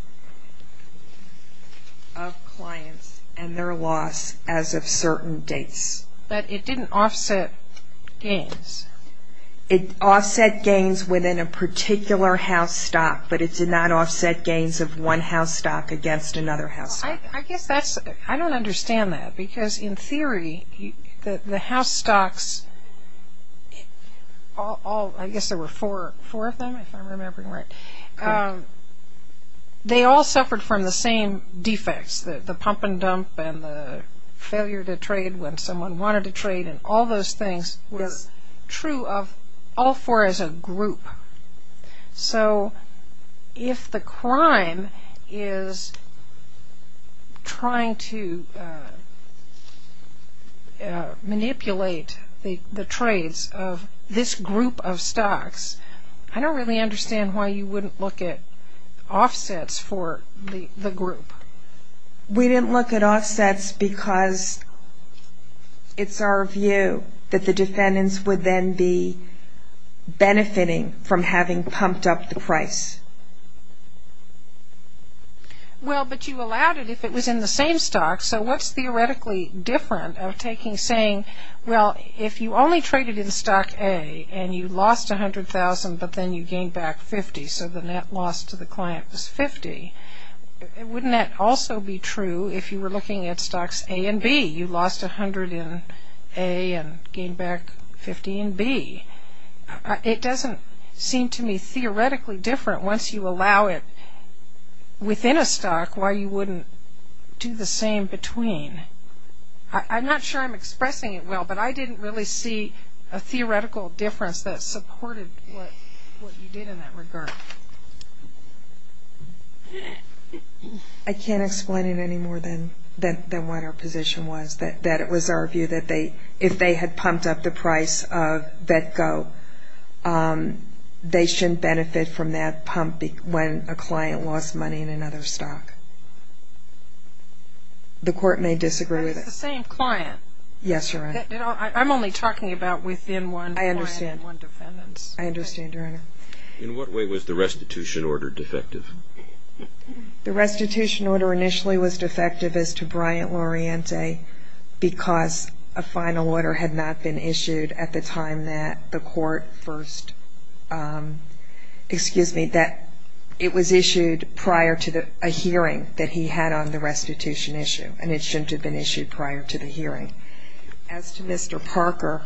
of clients and their loss as of certain dates. But it didn't offset gains. It offset gains within a particular house stock, but it did not offset gains of one house stock against another house stock. I don't understand that, because in theory, the house stocks, I guess there were four of them, if I'm remembering right, they all suffered from the same defects, the pump and dump and the failure to trade when someone wanted to trade, and all those things were true of all four as a group. So if the crime is trying to manipulate the trades of this group of stocks, I don't really understand why you wouldn't look at offsets for the group. We didn't look at offsets because it's our view that the defendants would then be benefiting from having pumped up the price. Well, but you allowed it if it was in the same stock, so what's theoretically different of saying, well, if you only traded in stock A and you lost $100,000 but then you gained back $50,000, so the net loss to the client was $50,000, wouldn't that also be true if you were looking at stocks A and B? You lost $100,000 in A and gained back $50,000 in B. It doesn't seem to me theoretically different once you allow it within a stock why you wouldn't do the same between. I'm not sure I'm expressing it well, but I didn't really see a theoretical difference that supported what you did in that regard. I can't explain it any more than what our position was, that it was our view that if they had pumped up the price of VETCO, they shouldn't benefit from that pump when a client lost money in another stock. The court may disagree with it. It's the same client. Yes, Your Honor. I'm only talking about within one client, one defendant. I understand, Your Honor. In what way was the restitution order defective? The restitution order initially was defective as to Bryant-Loriente because a final order had not been issued at the time that the court first, excuse me, that it was issued prior to a hearing that he had on the restitution issue and it shouldn't have been issued prior to the hearing. As to Mr. Parker,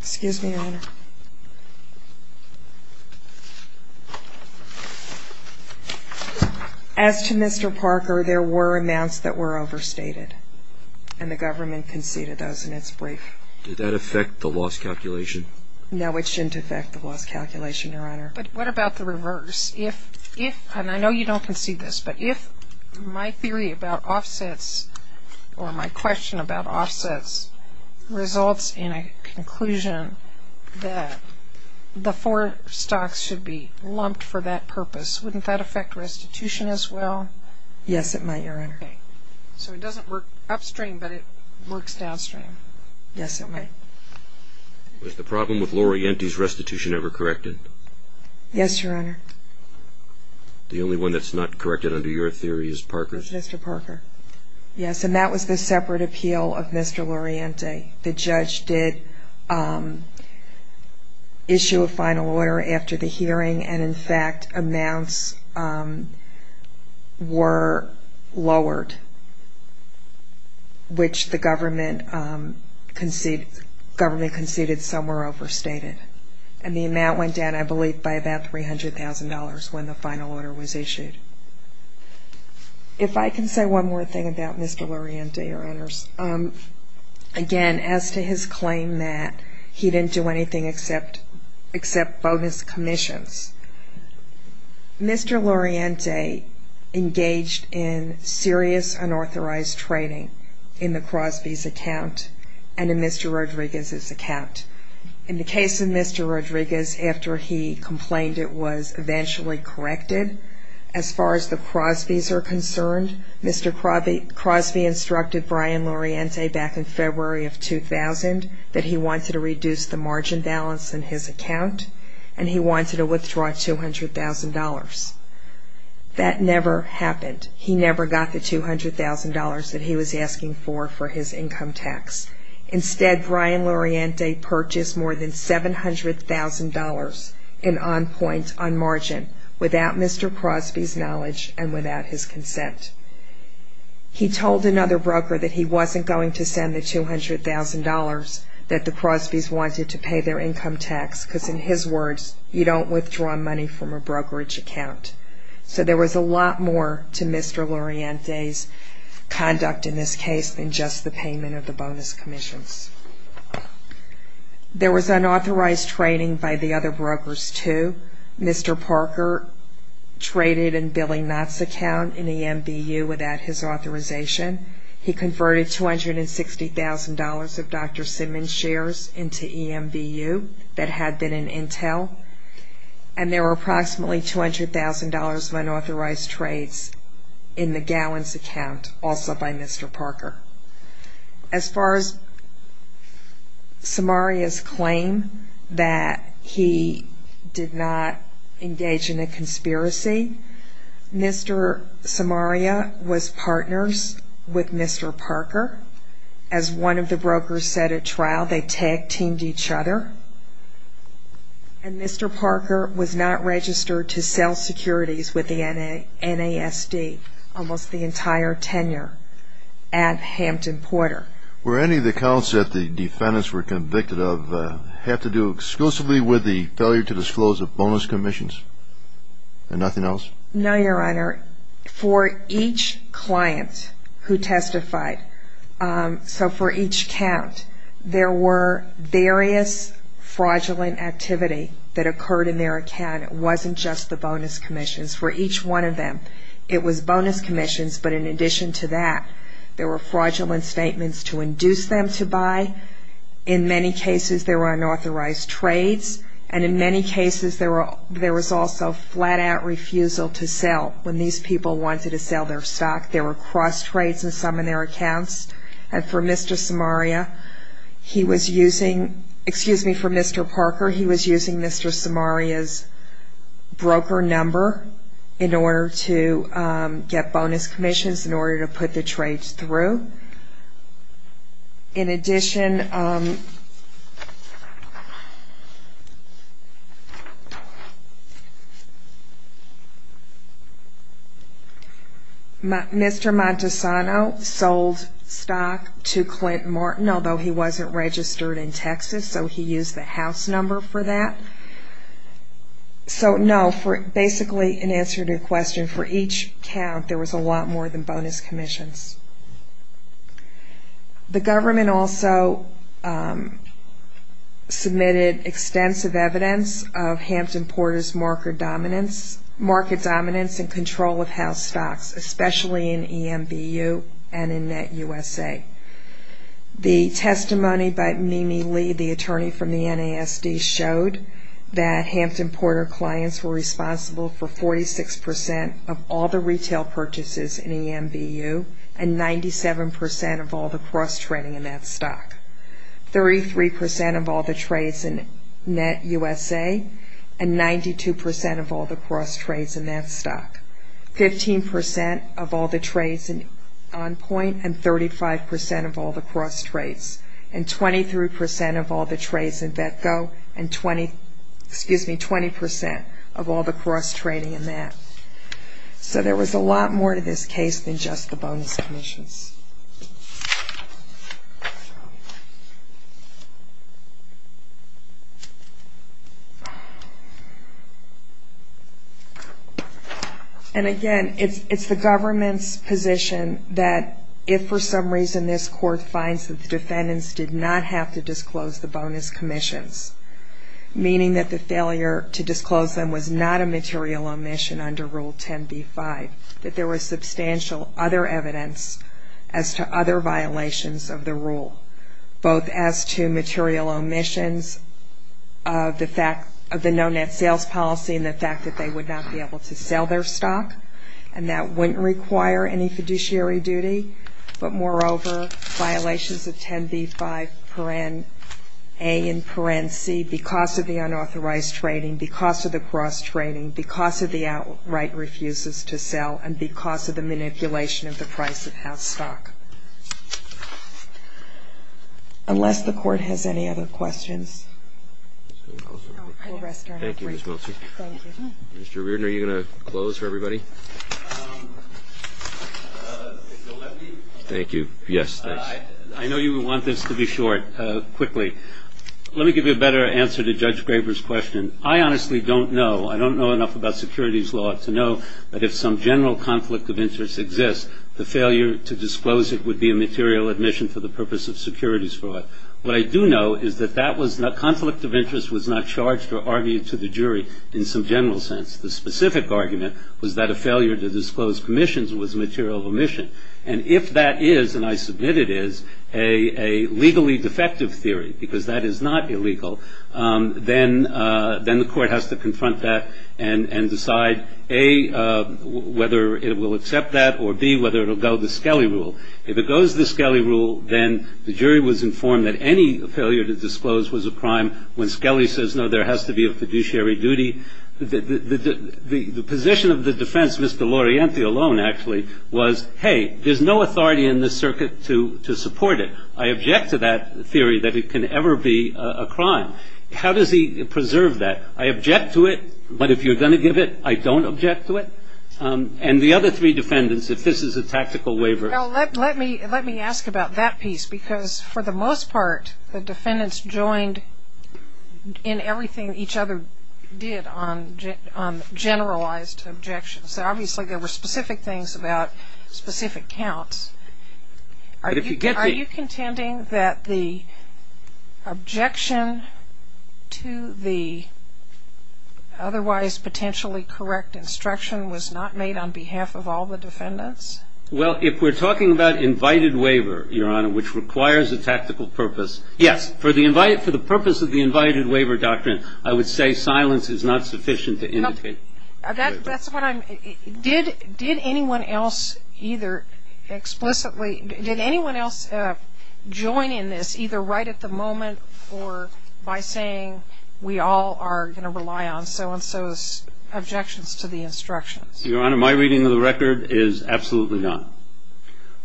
excuse me, Your Honor. As to Mr. Parker, there were amounts that were overstated and the government conceded those in its brief. Did that affect the loss calculation? No, it shouldn't affect the loss calculation, Your Honor. But what about the reverse? If, and I know you don't concede this, but if my theory about offsets or my question about offsets results in a conclusion that the four stocks should be lumped for that purpose, wouldn't that affect restitution as well? Yes, it might, Your Honor. Okay. So it doesn't work upstream, but it works downstream. Yes, it might. Was the problem with Loriente's restitution ever corrected? Yes, Your Honor. The only one that's not corrected under your theory is Parker's? It was Mr. Parker. Yes, and that was the separate appeal of Mr. Loriente. The judge did issue a final order after the hearing, and in fact amounts were lowered, which the government conceded some were overstated. And the amount went down, I believe, by about $300,000 when the final order was issued. If I can say one more thing about Mr. Loriente, Your Honors. Again, as to his claim that he didn't do anything except bonus commissions, Mr. Loriente engaged in serious unauthorized trading in the Crosby's account and in Mr. Rodriguez's account. In the case of Mr. Rodriguez, after he complained it was eventually corrected, as far as the Crosby's are concerned, Mr. Crosby instructed Brian Loriente back in February of 2000 that he wanted to reduce the margin balance in his account, and he wanted to withdraw $200,000. That never happened. He never got the $200,000 that he was asking for for his income tax. Instead, Brian Loriente purchased more than $700,000 in on-point, on-margin, without Mr. Crosby's knowledge and without his consent. He told another broker that he wasn't going to send the $200,000 that the Crosby's wanted to pay their income tax, because in his words, you don't withdraw money from a brokerage account. So there was a lot more to Mr. Loriente's conduct in this case than just the payment of the bonus commissions. There was unauthorized trading by the other brokers, too. Mr. Parker traded in Billy Knott's account in EMVU without his authorization. He converted $260,000 of Dr. Simmons' shares into EMVU that had been in Intel, and there were approximately $200,000 of unauthorized trades in the Gowans' account, also by Mr. Parker. As far as Samaria's claim that he did not engage in a conspiracy, Mr. Samaria was partners with Mr. Parker. As one of the brokers said at trial, they tag-teamed each other. And Mr. Parker was not registered to sell securities with the NASD almost the entire tenure at Hampton Porter. Were any of the counts that the defendants were convicted of have to do exclusively with the failure to disclose the bonus commissions and nothing else? No, Your Honor. For each client who testified, so for each count, there were various fraudulent activity that occurred in their account. It wasn't just the bonus commissions. For each one of them, it was bonus commissions, but in addition to that, there were fraudulent statements to induce them to buy. In many cases, there were unauthorized trades, and in many cases, there was also flat-out refusal to sell when these people wanted to sell their stock. There were cross-trades in some of their accounts, and for Mr. Samaria, he was using – excuse me, for Mr. Parker, he was using Mr. Samaria's broker number in order to get bonus commissions, in order to put the trades through. In addition, Mr. Montesano sold stock to Clint Martin, although he wasn't registered in Texas, so he used the house number for that. So, no, basically in answer to your question, for each count, there was a lot more than bonus commissions. The government also submitted extensive evidence of Hampton Porter's market dominance and control of house stocks, especially in EMBU and in NetUSA. The testimony by Mimi Lee, the attorney from the NASD, showed that Hampton Porter clients were responsible for 46% of all the retail purchases in EMBU and 97% of all the cross-trading in that stock, 33% of all the trades in NetUSA and 92% of all the cross-trades in that stock, 15% of all the trades in OnPoint and 35% of all the cross-trades, and 23% of all the trades in Vetco and 20% of all the cross-trading in that. So there was a lot more to this case than just the bonus commissions. And again, it's the government's position that if, for some reason, this court finds that the defendants did not have to disclose the bonus commissions, meaning that the failure to disclose them was not a material omission under Rule 10b-5, that there was substantial other evidence as to other violations of the rule, both as to material omissions of the fact of the no net sales policy and the fact that they would not be able to sell their stock, and that wouldn't require any fiduciary duty, but moreover violations of 10b-5, A and C, because of the unauthorized trading, because of the cross-trading, because of the outright refuses to sell, and because of the manipulation of the price of house stock. Unless the court has any other questions. Thank you, Ms. Meltzer. Mr. Reardon, are you going to close for everybody? Thank you. Yes, thanks. I know you would want this to be short, quickly. Let me give you a better answer to Judge Graber's question. I honestly don't know. I don't know enough about securities law to know that if some general conflict of interest exists, the failure to disclose it would be a material omission for the purpose of securities fraud. What I do know is that that conflict of interest was not charged or argued to the jury in some general sense. The specific argument was that a failure to disclose commissions was a material omission. And if that is, and I submit it is, a legally defective theory, because that is not illegal, then the court has to confront that and decide, A, whether it will accept that, or, B, whether it will go the Scali rule. If it goes the Scali rule, then the jury was informed that any failure to disclose was a crime. When Scali says, no, there has to be a fiduciary duty, the position of the defense, Mr. Laurienti alone, actually, was, hey, there's no authority in this circuit to support it. I object to that theory that it can ever be a crime. How does he preserve that? I object to it, but if you're going to give it, I don't object to it. And the other three defendants, if this is a tactical waiver. Well, let me ask about that piece, because for the most part, the defendants joined in everything each other did on generalized objections. Obviously, there were specific things about specific counts. Are you contending that the objection to the otherwise potentially correct instruction was not made on behalf of all the defendants? Well, if we're talking about invited waiver, Your Honor, which requires a tactical purpose, yes. For the purpose of the invited waiver doctrine, I would say silence is not sufficient to indicate. That's what I'm, did anyone else either explicitly, did anyone else join in this, either right at the moment or by saying, we all are going to rely on so-and-so's objections to the instructions? Your Honor, my reading of the record is absolutely not.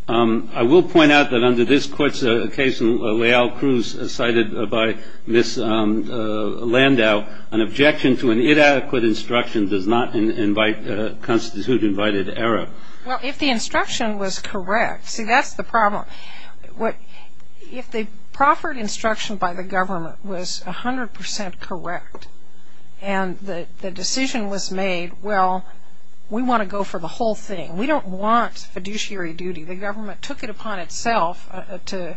I will point out that under this court's case, Leal-Cruz, cited by Ms. Landau, an objection to an inadequate instruction does not invite, constitute invited error. Well, if the instruction was correct, see, that's the problem. If the proffered instruction by the government was 100 percent correct and the decision was made, well, we want to go for the whole thing. We don't want fiduciary duty. The government took it upon itself to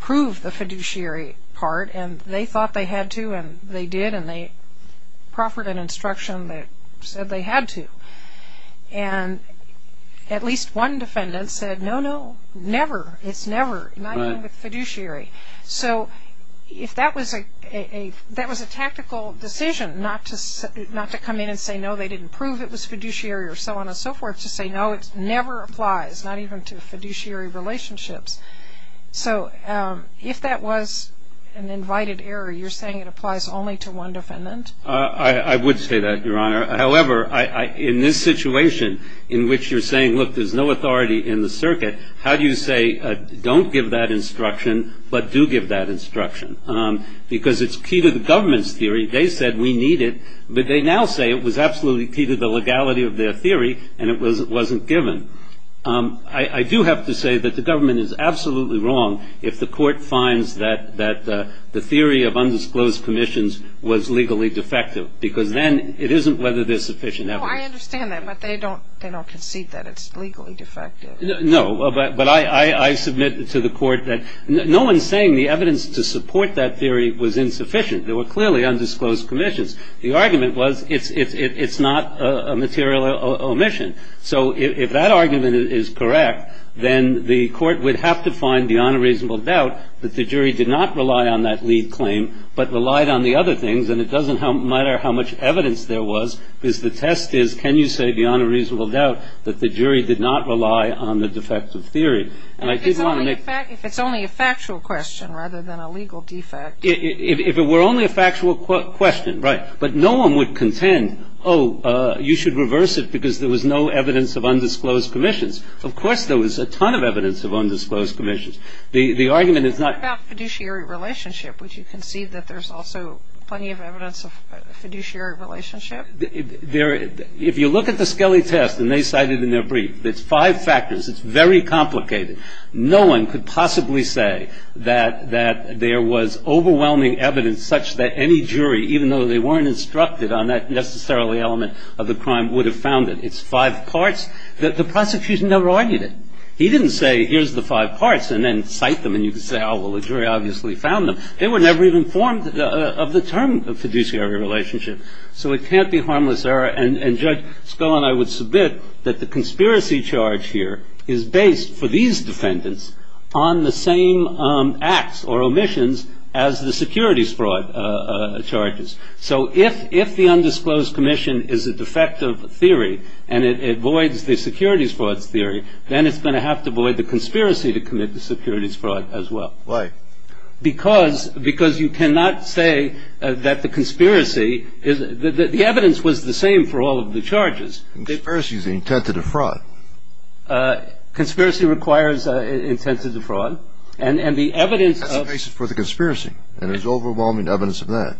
prove the fiduciary part, and they thought they had to, and they did, and they proffered an instruction that said they had to. And at least one defendant said, no, no, never, it's never, not even with fiduciary. So if that was a tactical decision, not to come in and say, no, they didn't prove it was fiduciary, or so on and so forth, to say, no, it never applies, not even to fiduciary relationships. So if that was an invited error, you're saying it applies only to one defendant? I would say that, Your Honor. However, in this situation in which you're saying, look, there's no authority in the circuit, how do you say, don't give that instruction, but do give that instruction? Because it's key to the government's theory. They said, we need it, but they now say it was absolutely key to the legality of their theory, and it wasn't given. I do have to say that the government is absolutely wrong if the court finds that the theory of undisclosed commissions was legally defective, because then it isn't whether they're sufficient evidence. No, I understand that, but they don't concede that it's legally defective. No, but I submit to the court that no one's saying the evidence to support that theory was insufficient. There were clearly undisclosed commissions. The argument was it's not a material omission. So if that argument is correct, then the court would have to find beyond a reasonable doubt that the jury did not rely on that lead claim, but relied on the other things, and it doesn't matter how much evidence there was, because the test is, can you say beyond a reasonable doubt that the jury did not rely on the defective theory? If it's only a factual question rather than a legal defect. If it were only a factual question, right. But no one would contend, oh, you should reverse it because there was no evidence of undisclosed commissions. Of course there was a ton of evidence of undisclosed commissions. The argument is not. What about fiduciary relationship? Would you concede that there's also plenty of evidence of fiduciary relationship? If you look at the Skelly test and they cite it in their brief, it's five factors. It's very complicated. No one could possibly say that there was overwhelming evidence such that any jury, even though they weren't instructed on that necessarily element of the crime, would have found it. It's five parts. The prosecution never argued it. He didn't say here's the five parts and then cite them and you can say, oh, well, the jury obviously found them. They were never even informed of the term fiduciary relationship. So it can't be harmless error. And Judge Skull and I would submit that the conspiracy charge here is based, for these defendants, on the same acts or omissions as the securities fraud charges. So if the undisclosed commission is a defective theory and it avoids the securities fraud theory, then it's going to have to avoid the conspiracy to commit the securities fraud as well. Why? Because you cannot say that the conspiracy is the evidence was the same for all of the charges. Conspiracy is the intent to defraud. Conspiracy requires intent to defraud. And the evidence of... That's the basis for the conspiracy. And there's overwhelming evidence of that.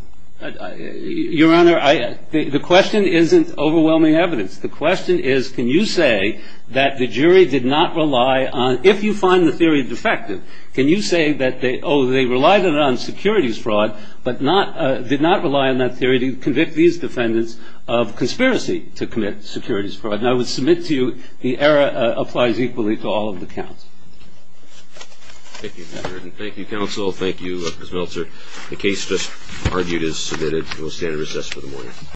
Your Honor, the question isn't overwhelming evidence. The question is can you say that the jury did not rely on, if you find the theory defective, can you say that, oh, they relied on securities fraud, but did not rely on that theory to convict these defendants of conspiracy to commit securities fraud. And I would submit to you the error applies equally to all of the counts. Thank you, Henry. And thank you, counsel. Thank you, Ms. Meltzer. The case just argued is submitted. We'll stand in recess for the morning.